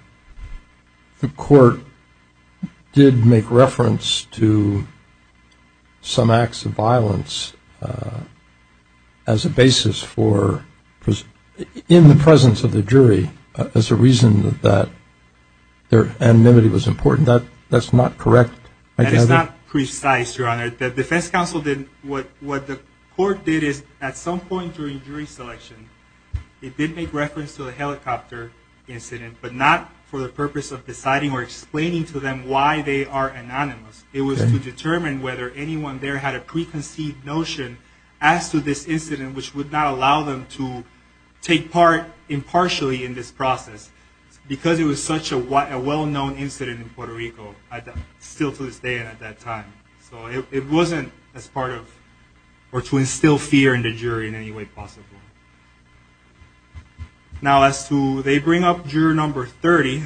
the court did make reference to some acts of violence as a basis for, in the presence of the jury as a reason that their anonymity was important. That's not correct? That is not precise, Your Honor. The defense counsel did, what the court did is at some point during jury selection, it did make reference to a helicopter incident, but not for the purpose of deciding or explaining to them why they are anonymous. It was to determine whether anyone there had a preconceived notion as to this incident which would not allow them to take part impartially in this process because it was such a well-known incident in Puerto Rico still to this day at that time. So it wasn't as part of or to instill fear in the jury in any way possible. Now as to, they bring up juror number 30.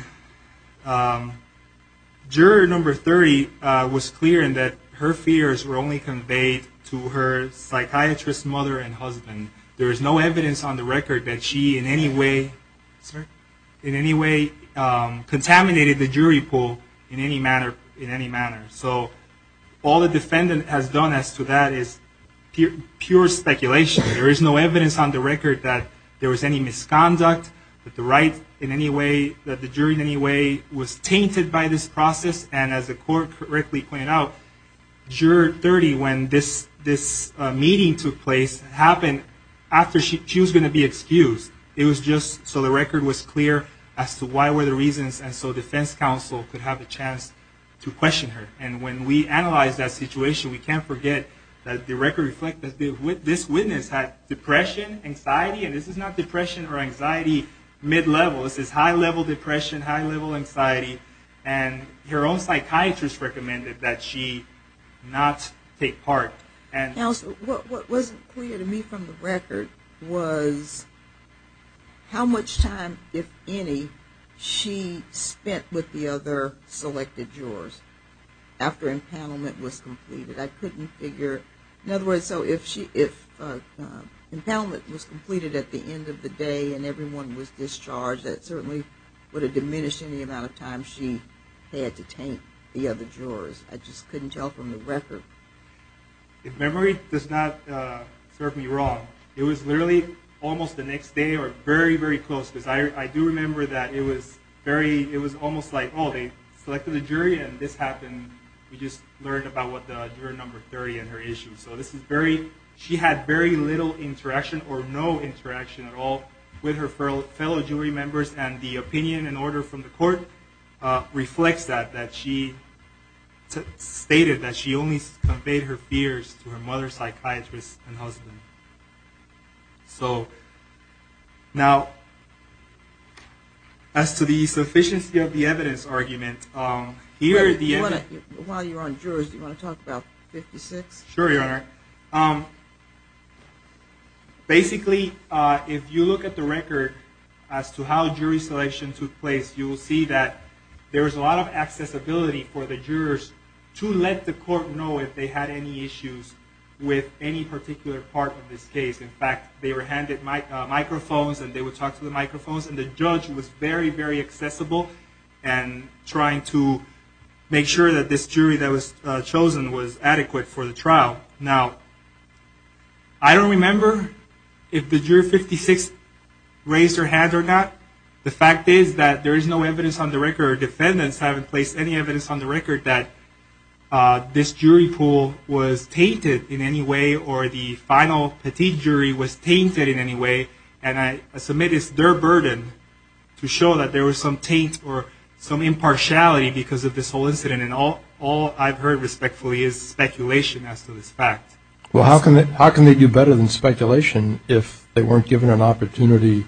Juror number 30 was clear in that her fears were only conveyed to her psychiatrist mother and husband. There is no evidence on the record that she in any way contaminated the jury pool in any manner. So all the defendant has done as to that is pure speculation. There is no evidence on the record that there was any misconduct with the right in any way, that the jury in any way was tainted by this process. And as the court correctly pointed out, juror 30, when this meeting took place, happened after she was going to be excused. It was just so the record was clear as to why were the reasons and so defense counsel could have a chance to question her. And when we analyze that situation, we can't forget that the record reflected that this witness had depression, anxiety, and this is not depression or anxiety mid-level. This is high-level depression, high-level anxiety, and her own psychiatrist recommended that she not take part. Counsel, what wasn't clear to me from the record was how much time, if any, she spent with the other selected jurors after empowerment was completed. I couldn't figure. In other words, so if empowerment was completed at the end of the day and everyone was discharged, that certainly would have diminished any amount of time she had to taint the other jurors. I just couldn't tell from the record. If memory does not serve me wrong, it was literally almost the next day or very, very close. I do remember that it was very, it was almost like, oh, they selected a jury and this happened. We just learned about what the juror number 30 and her issue. So this is very, she had very little interaction or no interaction at all with her fellow jury members, and the opinion and order from the court reflects that, that she stated that she only conveyed her fears to her mother psychiatrist and husband. So now, as to the sufficiency of the evidence argument, here at the end. While you're on jurors, do you want to talk about 56? Sure, Your Honor. Basically, if you look at the record as to how jury selection took place, you will see that there is a lot of accessibility for the jurors to let the court know if they had any issues with any particular part of this case. In fact, they were handed microphones and they would talk to the microphones, and the judge was very, very accessible and trying to make sure that this jury that was chosen was adequate for the trial. Now, I don't remember if the juror 56 raised her hand or not. The fact is that there is no evidence on the record, and the juror defendants haven't placed any evidence on the record that this jury pool was tainted in any way or the final jury was tainted in any way, and I submit it's their burden to show that there was some taint or some impartiality because of this whole incident, and all I've heard respectfully is speculation as to this fact. Well, how can they do better than speculation if they weren't given an opportunity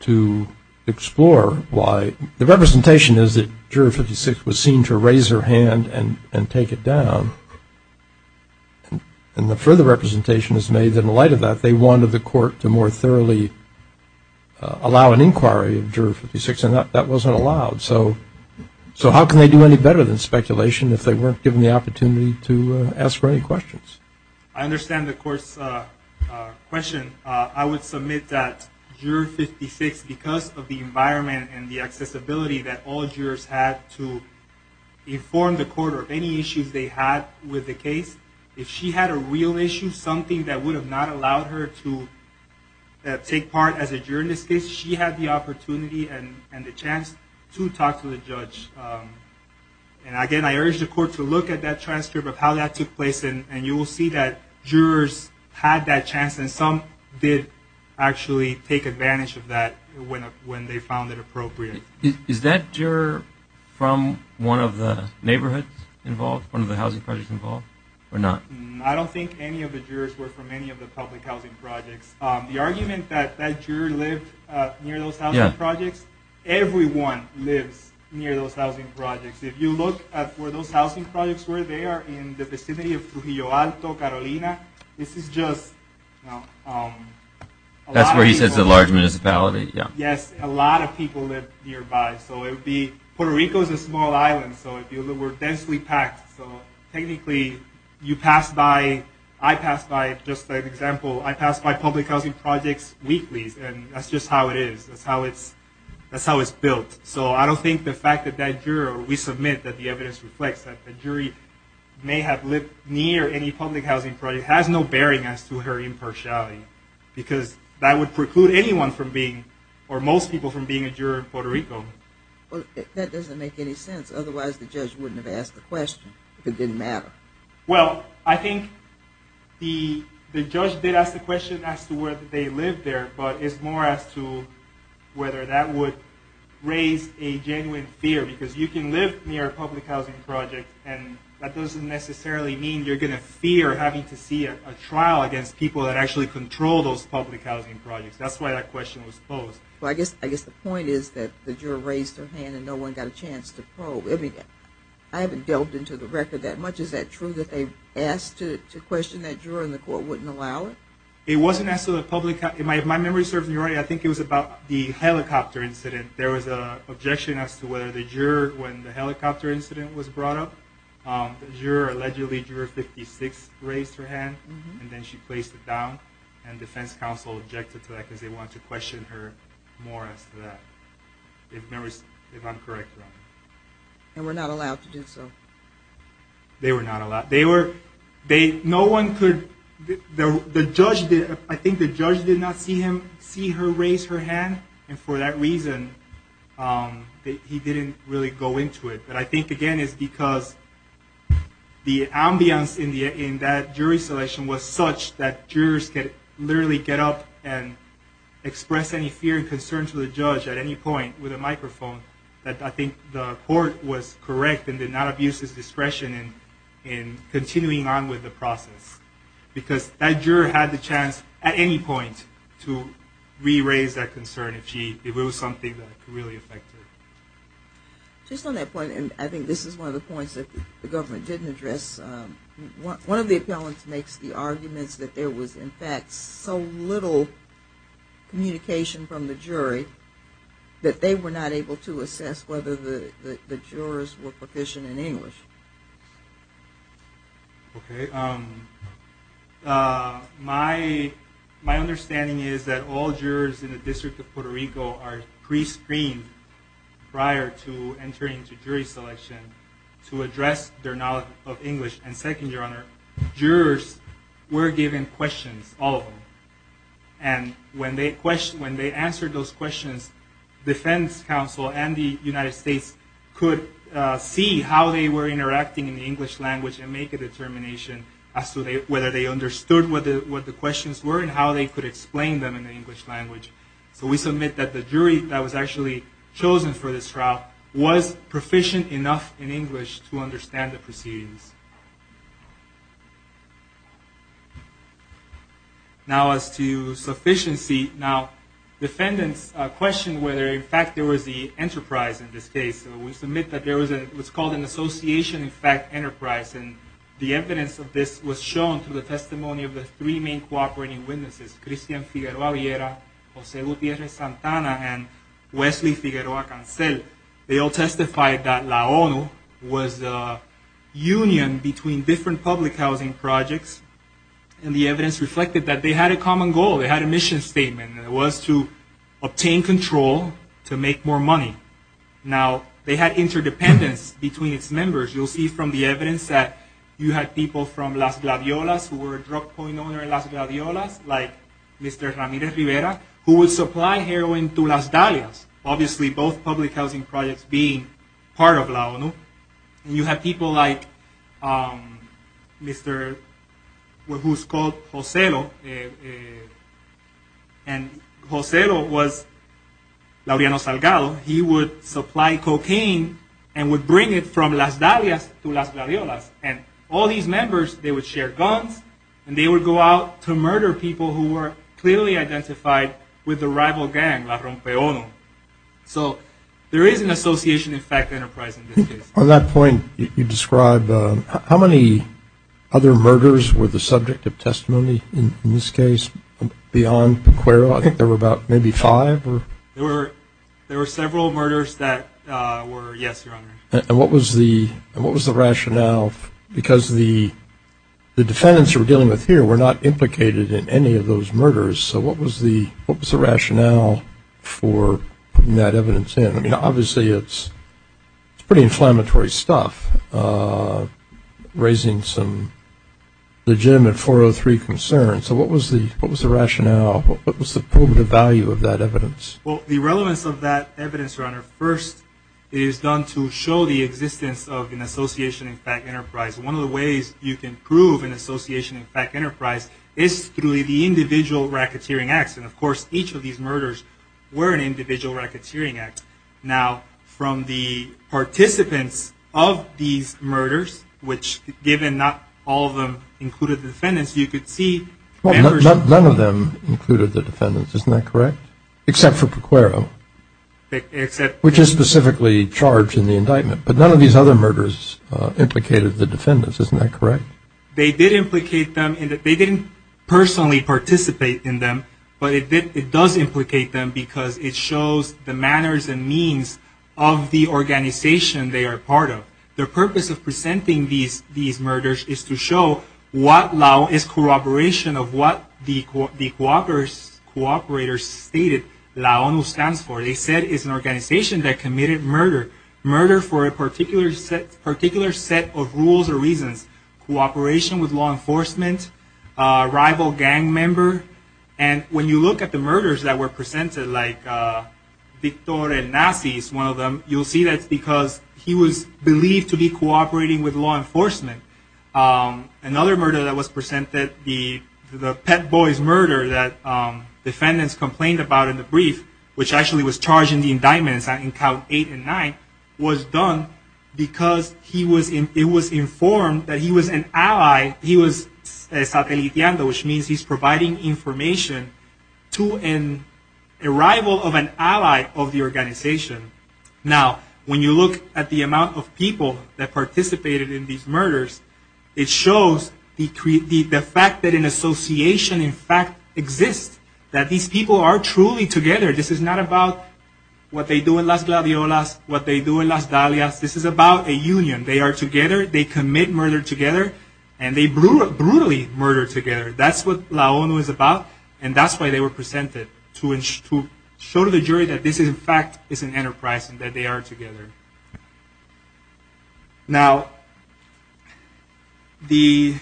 to explore why? The representation is that juror 56 was seen to raise her hand and take it down, and the further representation is made that in light of that, they wanted the court to more thoroughly allow an inquiry of juror 56, and that wasn't allowed. So how can they do any better than speculation if they weren't given the opportunity to ask for any questions? I understand the court's question. I would submit that juror 56, because of the environment and the accessibility that all jurors have to inform the court of any issues they had with the case, if she had a real issue, something that would have not allowed her to take part as a juror in this case, she had the opportunity and the chance to talk to the judge, and again, I urge the court to look at that transcript of how that took place, and you will see that jurors had that chance, and some did actually take advantage of that when they found it appropriate. Is that juror from one of the neighborhoods involved, one of the housing projects involved, or not? I don't think any of the jurors were from any of the public housing projects. The argument that that juror lived near those housing projects, everyone lived near those housing projects. If you look at where those housing projects were, they are in the vicinity of Jujuyo Alto, Carolina. This is just a lot of people. That's where you said the large municipality, yeah. Yes, a lot of people lived nearby, so it would be, Puerto Rico is a small island, so it would be densely packed, so technically, you pass by, I pass by, just as an example, I pass by public housing projects weekly, and that's just how it is, that's how it's built. So I don't think the fact that that juror, we submit that the evidence reflects that the jury may have lived near any public housing project has no bearing as to her impartiality, because that would preclude anyone from being, or most people from being a juror in Puerto Rico. That doesn't make any sense, otherwise the judge wouldn't have asked the question, if it didn't matter. Well, I think the judge did ask the question as to whether they lived there, but it's more as to whether that would raise a genuine fear, because you can live near a public housing project, and that doesn't necessarily mean you're going to fear having to see a trial against people that actually control those public housing projects. That's why that question was posed. Well, I guess the point is that the juror raised his hand and no one got a chance to probe. I haven't delved into the record that much. Is that true that they asked to question that juror and the court wouldn't allow it? It wasn't as to the public, if my memory serves me right, I think it was about the helicopter incident. There was an objection as to whether the juror, when the helicopter incident was brought up, the juror, allegedly juror 56, raised her hand, and then she placed it down, and defense counsel objected to that because they wanted to question her more as to that. It's an incorrect one. They were not allowed to do so. They were not allowed. No one could, the judge, I think the judge did not see her raise her hand, and for that reason, he didn't really go into it. But I think, again, it's because the ambience in that jury selection was such that jurors could literally get up and express any fear and concern to the judge at any point with a microphone. I think the court was correct and did not abuse its discretion in continuing on with the process because that juror had the chance at any point to re-raise that concern if she, if it was something that really affected her. Just on that point, and I think this is one of the points that the government didn't address, one of the appellants makes the argument that there was, in fact, so little communication from the jury that they were not able to assess whether the jurors were proficient in English. My understanding is that all jurors in the District of Puerto Rico are pre-screened prior to entering into jury selection to address their knowledge of English. And second, Your Honor, jurors were given questions, all of them. And when they answered those questions, defense counsel and the United States could see how they were interacting in the English language and make a determination as to whether they understood what the questions were and how they could explain them in the English language. So we submit that the jury that was actually chosen for this trial was proficient enough in English to understand the proceedings. Now as to sufficiency, now defendants questioned whether, in fact, there was the enterprise in this case. We submit that there was what's called an association in fact enterprise. And the evidence of this was shown through the testimony of the three main cooperating witnesses, Christian Figueroa-Villera, Jose Gutierrez-Santana, and Wesley Figueroa-Cancel. They all testified that La ONU was a union between different public housing projects. And the evidence reflected that they had a common goal, they had a mission statement, and it was to obtain control to make more money. Now they had interdependence between its members. You'll see from the evidence that you had people from Las Glaviolas who were a drug point owner in Las Glaviolas, like Mr. Ramirez-Rivera, who would supply heroin to Las Dallas, obviously both public housing projects being part of La ONU. And you had people like Mr. who's called Jose Lo. And Jose Lo was Laureano Salgado. He would supply cocaine and would bring it from Las Dallas to Las Glaviolas. And all these members, they would share guns, and they would go out to murder people who were clearly identified with a rival gang, La Ronque ONU. So there is an association in fact enterprise in this case. On that point, you described, how many other murders were the subject of testimony in this case beyond Pecueroa? I think there were about maybe five? There were several murders that were, yes, Your Honor. And what was the rationale? Because the defendants you're dealing with here were not implicated in any of those murders, so what was the rationale for putting that evidence in? I mean, obviously it's pretty inflammatory stuff, raising some legitimate 403 concerns. So what was the rationale? What was the value of that evidence? Well, the relevance of that evidence, Your Honor, first is done to show the existence of an association in fact enterprise. One of the ways you can prove an association in fact enterprise is through the individual racketeering acts. And of course, each of these murders were an individual racketeering act. Now, from the participants of these murders, which given not all of them included the defendants, as you can see... None of them included the defendants, isn't that correct? Except for Pecuero, which is specifically charged in the indictment. But none of these other murders implicated the defendants, isn't that correct? They did implicate them, and they didn't personally participate in them, but it does implicate them because it shows the manners and means of the organization they are part of. The purpose of presenting these murders is to show what is corroboration of what the cooperators stated LAONU stands for. They said it's an organization that committed murder. Murder for a particular set of rules or reasons. Cooperation with law enforcement, rival gang member, and when you look at the murders that were presented, like Victor and Nafis, one of them, you'll see that because he was believed to be cooperating with law enforcement. Another murder that was presented, the Pet Boys murder that defendants complained about in the brief, which actually was charged in the indictment, in count eight and nine, was done because it was informed that he was an ally. Estabilizando, which means he's providing information to an arrival of an ally of the organization. Now, when you look at the amount of people that participated in these murders, it shows the fact that an association, in fact, exists. That these people are truly together. This is not about what they do in Las Gladiolas, what they do in Las Dalias. This is about a union. They are together, they commit murder together, and they brutally murder together. That's what La ONU is about, and that's why they were presented. To show to the jury that this, in fact, is an enterprise and that they are together. Now, the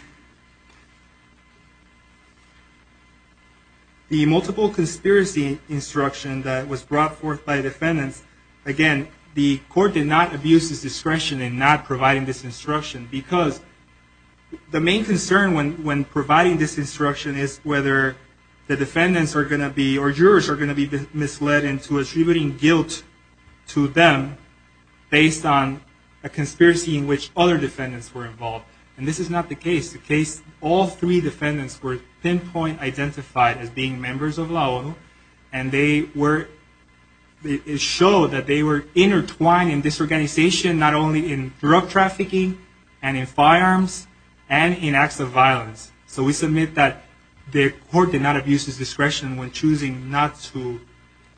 multiple conspiracy instruction that was brought forth by defendants, again, the court did not abuse its discretion in not providing this instruction because the main concern when providing this instruction is whether the defendants are going to be, or jurors are going to be misled into attributing guilt to them based on a conspiracy in which other defendants were involved. And this is not the case. The case, all three defendants were pinpoint identified as being members of La ONU, and they were, it showed that they were intertwined in disorganization, not only in drug trafficking and in firearms and in acts of violence. So we submit that the court did not abuse its discretion when choosing not to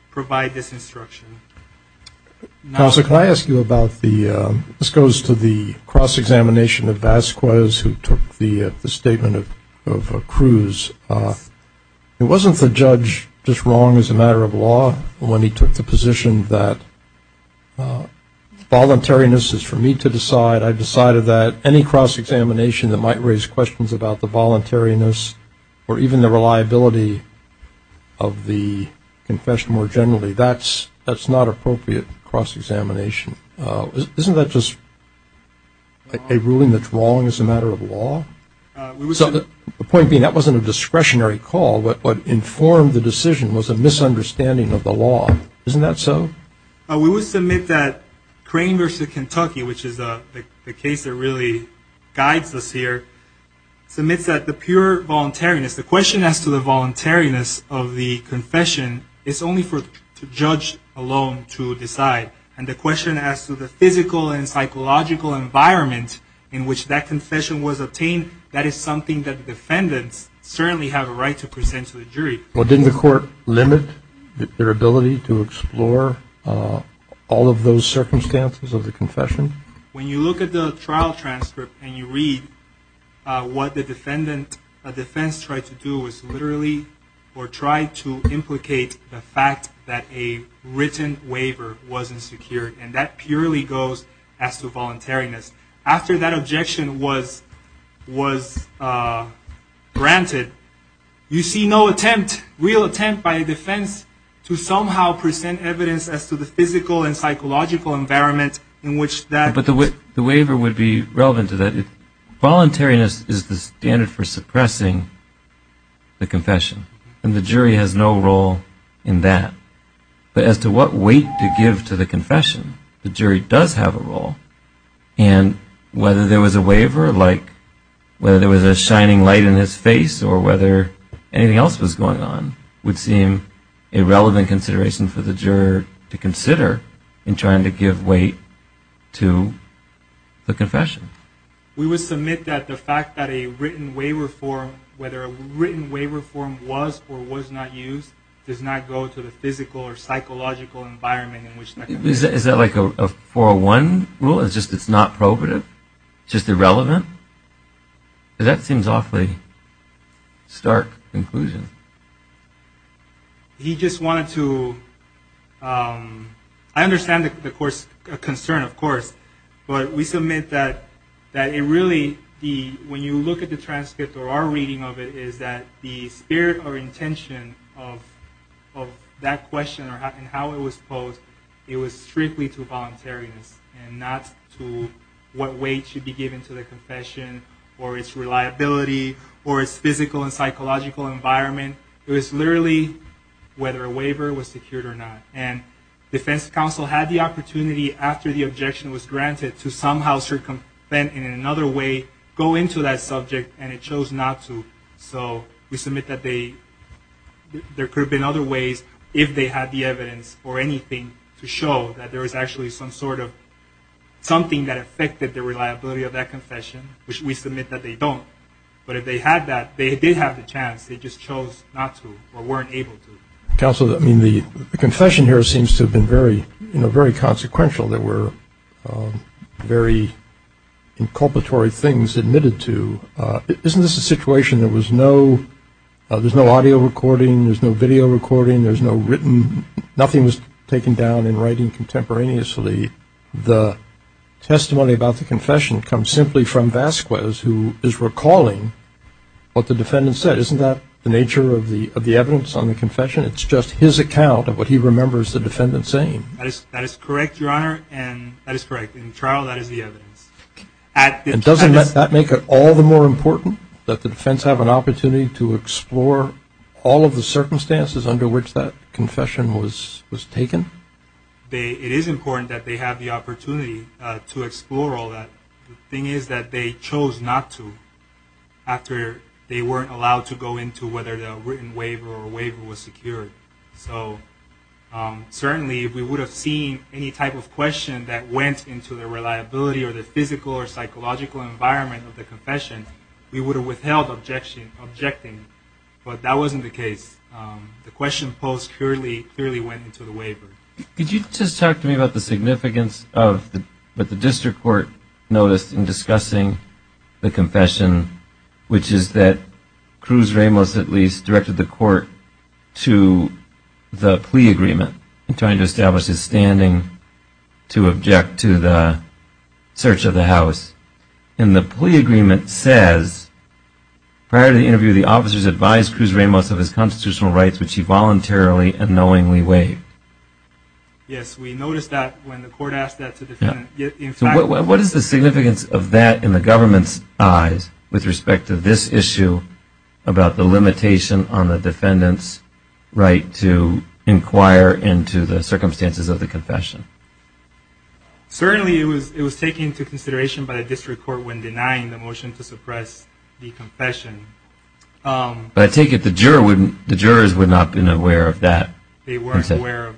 provide this instruction. Counsel, can I ask you about the, this goes to the cross-examination of Vasquez, who took the statement of Cruz. It wasn't the judge just wrong as a matter of law when he took the position that voluntariness is for me to decide. I decided that any cross-examination that might raise questions about the voluntariness or even the reliability of the confession more generally, that's not appropriate cross-examination. Isn't that just a ruling that's wrong as a matter of law? The point being, that wasn't a discretionary call, but informed the decision was a misunderstanding of the law. Isn't that so? We would submit that Crane v. Kentucky, which is the case that really guides us here, submit that the pure voluntariness, the question as to the voluntariness of the confession, it's only for the judge alone to decide. And the question as to the physical and psychological environment in which that confession was obtained, that is something that the defendants certainly have a right to present to the jury. Well, didn't the court limit their ability to explore all of those circumstances of the confession? When you look at the trial transcript and you read what the defense tried to do was literally or tried to implicate the fact that a written waiver wasn't secured, and that purely goes as to voluntariness. After that objection was granted, you see no attempt, real attempt by a defense, to somehow present evidence as to the physical and psychological environment in which that... But the waiver would be relevant to that. Voluntariness is the standard for suppressing the confession. And the jury has no role in that. But as to what weight to give to the confession, the jury does have a role. And whether there was a waiver, like whether there was a shining light in his face, or whether anything else was going on, would seem a relevant consideration for the juror to consider in trying to give weight to the confession. We would submit that the fact that a written waiver form, whether a written waiver form was or was not used, does not go to the physical or psychological environment in which... Is that like a 401 rule? It's just it's not prohibitive? It's just irrelevant? That seems awfully stark conclusion. He just wanted to... I understand the concern, of course. But we submit that it really... When you look at the transcripts or our reading of it, is that the spirit or intention of that question or how it was posed, it was strictly to voluntariness and not to what weight should be given to the confession or its reliability or its physical and psychological environment. It was literally whether a waiver was secured or not. And defense counsel had the opportunity after the objection was granted to somehow circumvent in another way, go into that subject, and it chose not to. So we submit that there could have been other ways, if they had the evidence or anything, to show that there was actually some sort of something that affected the reliability of that confession, which we submit that they don't. But if they had that, they did have the chance. They just chose not to or weren't able to. Counsel, the confession here seems to have been very consequential. There were very inculpatory things admitted to. Isn't this a situation that there's no audio recording, there's no video recording, there's no written... Nothing was taken down in writing contemporaneously. The testimony about the confession comes simply from Vasquez, who is recalling what the defendant said. Isn't that the nature of the evidence on the confession? It's just his account of what he remembers the defendant saying. That is correct, Your Honor, and that is correct. In the trial, that is the evidence. Doesn't that make it all the more important that the defense have an opportunity to explore all of the circumstances under which that confession was taken? It is important that they have the opportunity to explore all that. The thing is that they chose not to after they weren't allowed to go into whether the written waiver or waiver was secured. Certainly, if we would have seen any type of question that went into the reliability or the physical or psychological environment of the confession, we would have withheld objecting. But that wasn't the case. The question posed clearly went into the waiver. Could you just talk to me about the significance that the district court noticed in discussing the confession, which is that Cruz Ramos, at least, directed the court to the plea agreement, trying to establish his standing to object to the search of the house. And the plea agreement says, prior to the interview, the officers advised Cruz Ramos of his constitutional rights, which he voluntarily and knowingly waived. Yes, we noticed that when the court asked that to the defendant. What is the significance of that in the government's eyes with respect to this issue about the limitation on the defendant's right to inquire into the circumstances of the confession? Certainly, it was taken into consideration by the district court when denying the motion to suppress the confession. But I take it the jurors were not aware of that. They weren't aware.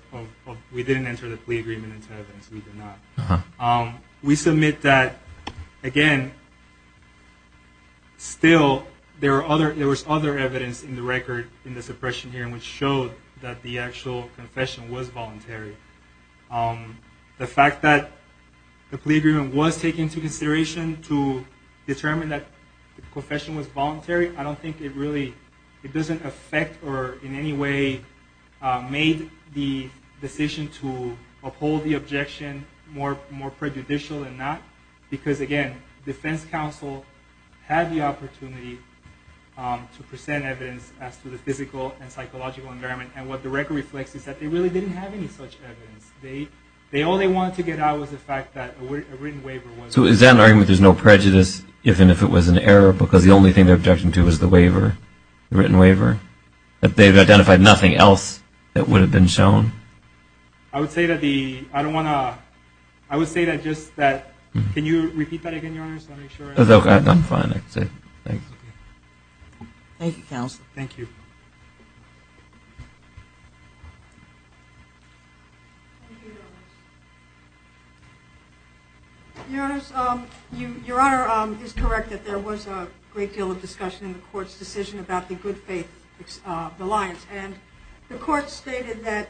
We didn't answer the plea agreement and said that we did not. We submit that, again, still there was other evidence in the record in the suppression hearing which showed that the actual confession was voluntary. The fact that the plea agreement was taken into consideration to determine that the confession was voluntary, I don't think it really, it doesn't affect or in any way made the decision to uphold the objection more prejudicial than that. Because, again, the defense counsel had the opportunity to present evidence as to the physical and psychological environment. And what the record reflects is that they really didn't have any such evidence. All they wanted to get out was the fact that a written waiver was there. So is that an argument that there's no prejudice, even if it was an error, because the only thing they're objecting to is the waiver, the written waiver? That they've identified nothing else that would have been shown? I would say that the, I don't want to, I would say that just that, can you repeat that again, Your Honor, just to make sure? That's okay, I'm fine. Thank you, counsel. Thank you. Your Honor, you're correct that there was a great deal of discussion in the court's decision about the good faith alliance. And the court stated that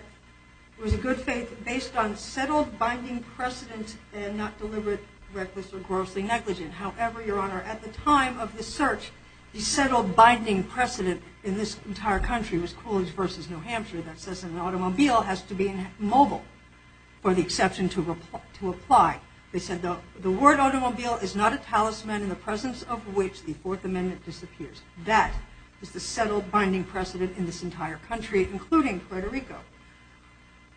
it was a good faith based on settled binding precedent and not deliberate reckless or gross inequity. However, Your Honor, at the time of the search, the settled binding precedent in this entire country was Coolidge versus New Hampshire that says an automobile has to be mobile for the exception to apply. They said the word automobile is not a talisman in the presence of which the Fourth Amendment disappears. That is the settled binding precedent in this entire country, including Puerto Rico.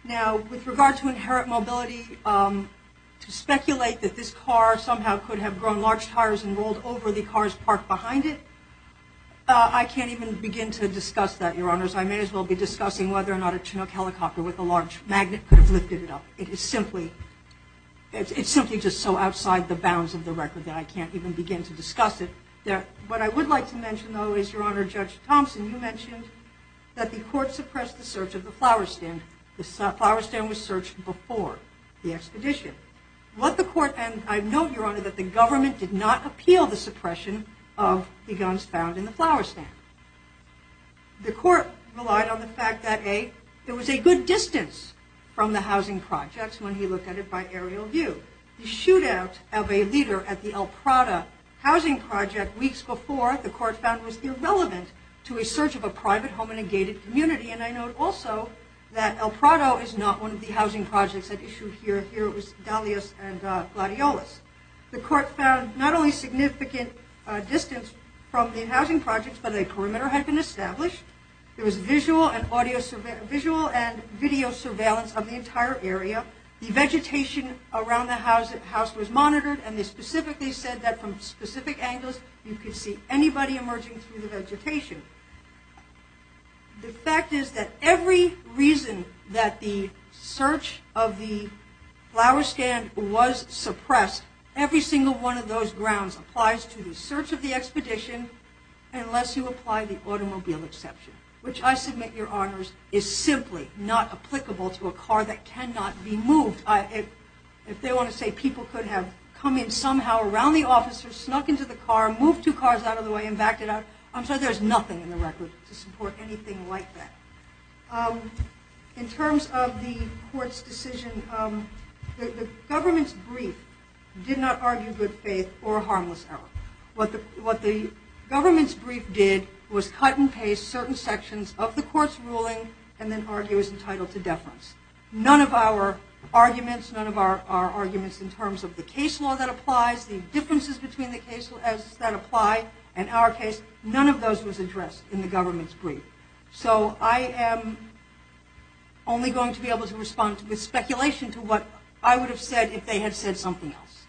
Now, with regard to inherent mobility, to speculate that this car somehow could have grown large tires and rolled over the cars parked behind it, I can't even begin to discuss that, Your Honors. I may as well be discussing whether or not a Chinook helicopter with a large magnet could have lifted it up. It is simply, it's simply just so outside the bounds of the record that I can't even begin to discuss it. What I would like to mention though is, Your Honor, Judge Thompson, you mentioned that the court suppressed the search of the flower stand. The flower stand was searched before the expedition. What the court, and I note, Your Honor, that the government did not appeal the suppression of the guns found in the flower stand. The court relied on the fact that, A, there was a good distance from the housing projects when he looked at it by aerial view. The shootout of a leader at the El Prado housing project weeks before, the court found was irrelevant to a search of a private home in a gated community. And I note also that El Prado is not one of the housing projects that issued here. Here it was Dalius and Gladiolus. The court found not only significant distance from the housing projects but a perimeter had been established. There was visual and audio, visual and video surveillance of the entire area. The vegetation around the house was monitored and it specifically said that from specific angles, you could see anybody emerging through the vegetation. The fact is that every reason that the search of the flower stand was suppressed, every single one of those grounds applies to the search of the expedition unless you apply the automobile exception, which I submit your honors is simply not applicable to a car that cannot be moved. If they want to say people could have come in somehow around the officer, snuck into the car, moved two cars out of the way and backed it up, I'm sure there's nothing in the record to support anything like that. In terms of the court's decision, the government's brief did not argue good faith or harmless health. What the government's brief did was cut and paste certain sections of the court's ruling and then argue as entitled to deference. None of our arguments, none of our arguments in terms of the case law that applies, the differences between the cases that apply in our case, none of those was addressed in the government's brief. So I am only going to be able to respond to the speculation to what I would have said if they had said something else.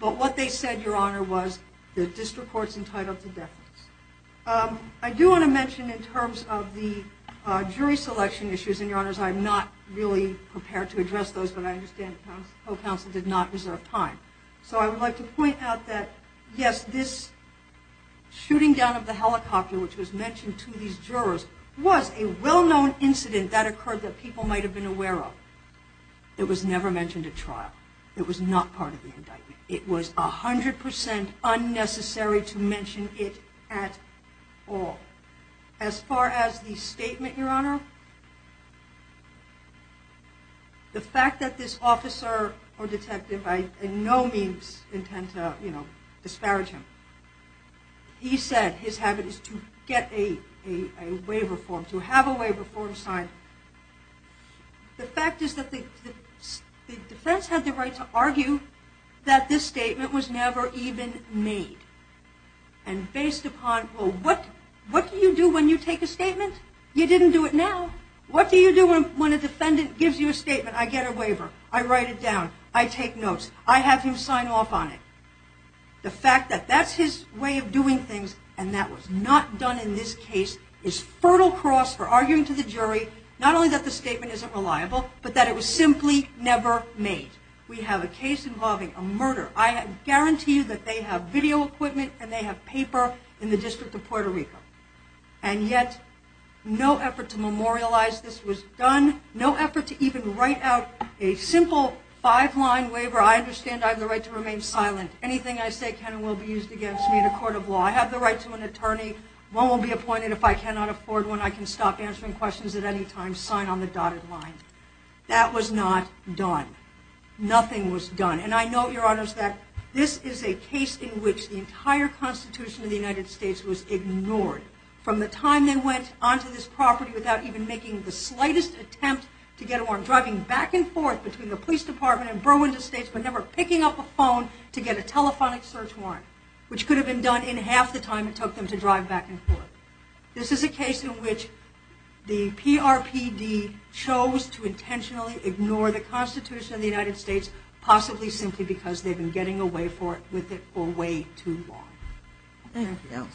But what they said, your honor, was that this report is entitled to deference. I do want to mention in terms of the jury selection issues, and your honors, I'm not really prepared to address those but I understand counsel did not reserve time. So I would like to point out that yes, this shooting down of the helicopter which was mentioned to these jurors was a well-known incident that occurred that people might have been aware of. It was never mentioned at trial. It was not part of the indictment. It was 100% unnecessary to mention it at all. As far as the statement, your honor, the fact that this officer or detective by no means intended to disparage him. He said his habit is to get a waiver form, to have a waiver form signed. The fact is that the defense had the right to argue that this statement was never even made. And based upon, well, what do you do when you take a statement? You didn't do it now. What do you do when a defendant gives you a statement? I get a waiver. I write it down. I take notes. I have him sign off on it. The fact that that's his way of doing things and that was not done in this case is fertile cross for arguing to the jury not only that the statement isn't reliable, but that it was simply never made. We have a case involving a murder. I guarantee you that they have video equipment and they have paper in the District of Puerto Rico. And yet no effort to memorialize this was done. No effort to even write out a simple five-line waiver. I understand I have the right to remain silent. Anything I say can and will be used against me in a court of law. I have the right to an attorney. One will be appointed if I cannot afford one. I can stop answering questions at any time. Sign on the dotted line. That was not done. Nothing was done. And I know, Your Honors, that this is a case in which the entire Constitution of the United States was ignored from the time it went onto this property without even making the slightest attempt to get a warrant, driving back and forth between the police department and Burwinder State but never picking up a phone to get a telephonic search warrant, which could have been done in half the time it took them to drive back and forth. This is a case in which the PRPD chose to intentionally ignore the Constitution of the United States, possibly simply because they've been getting away with it for way too long. Thank you.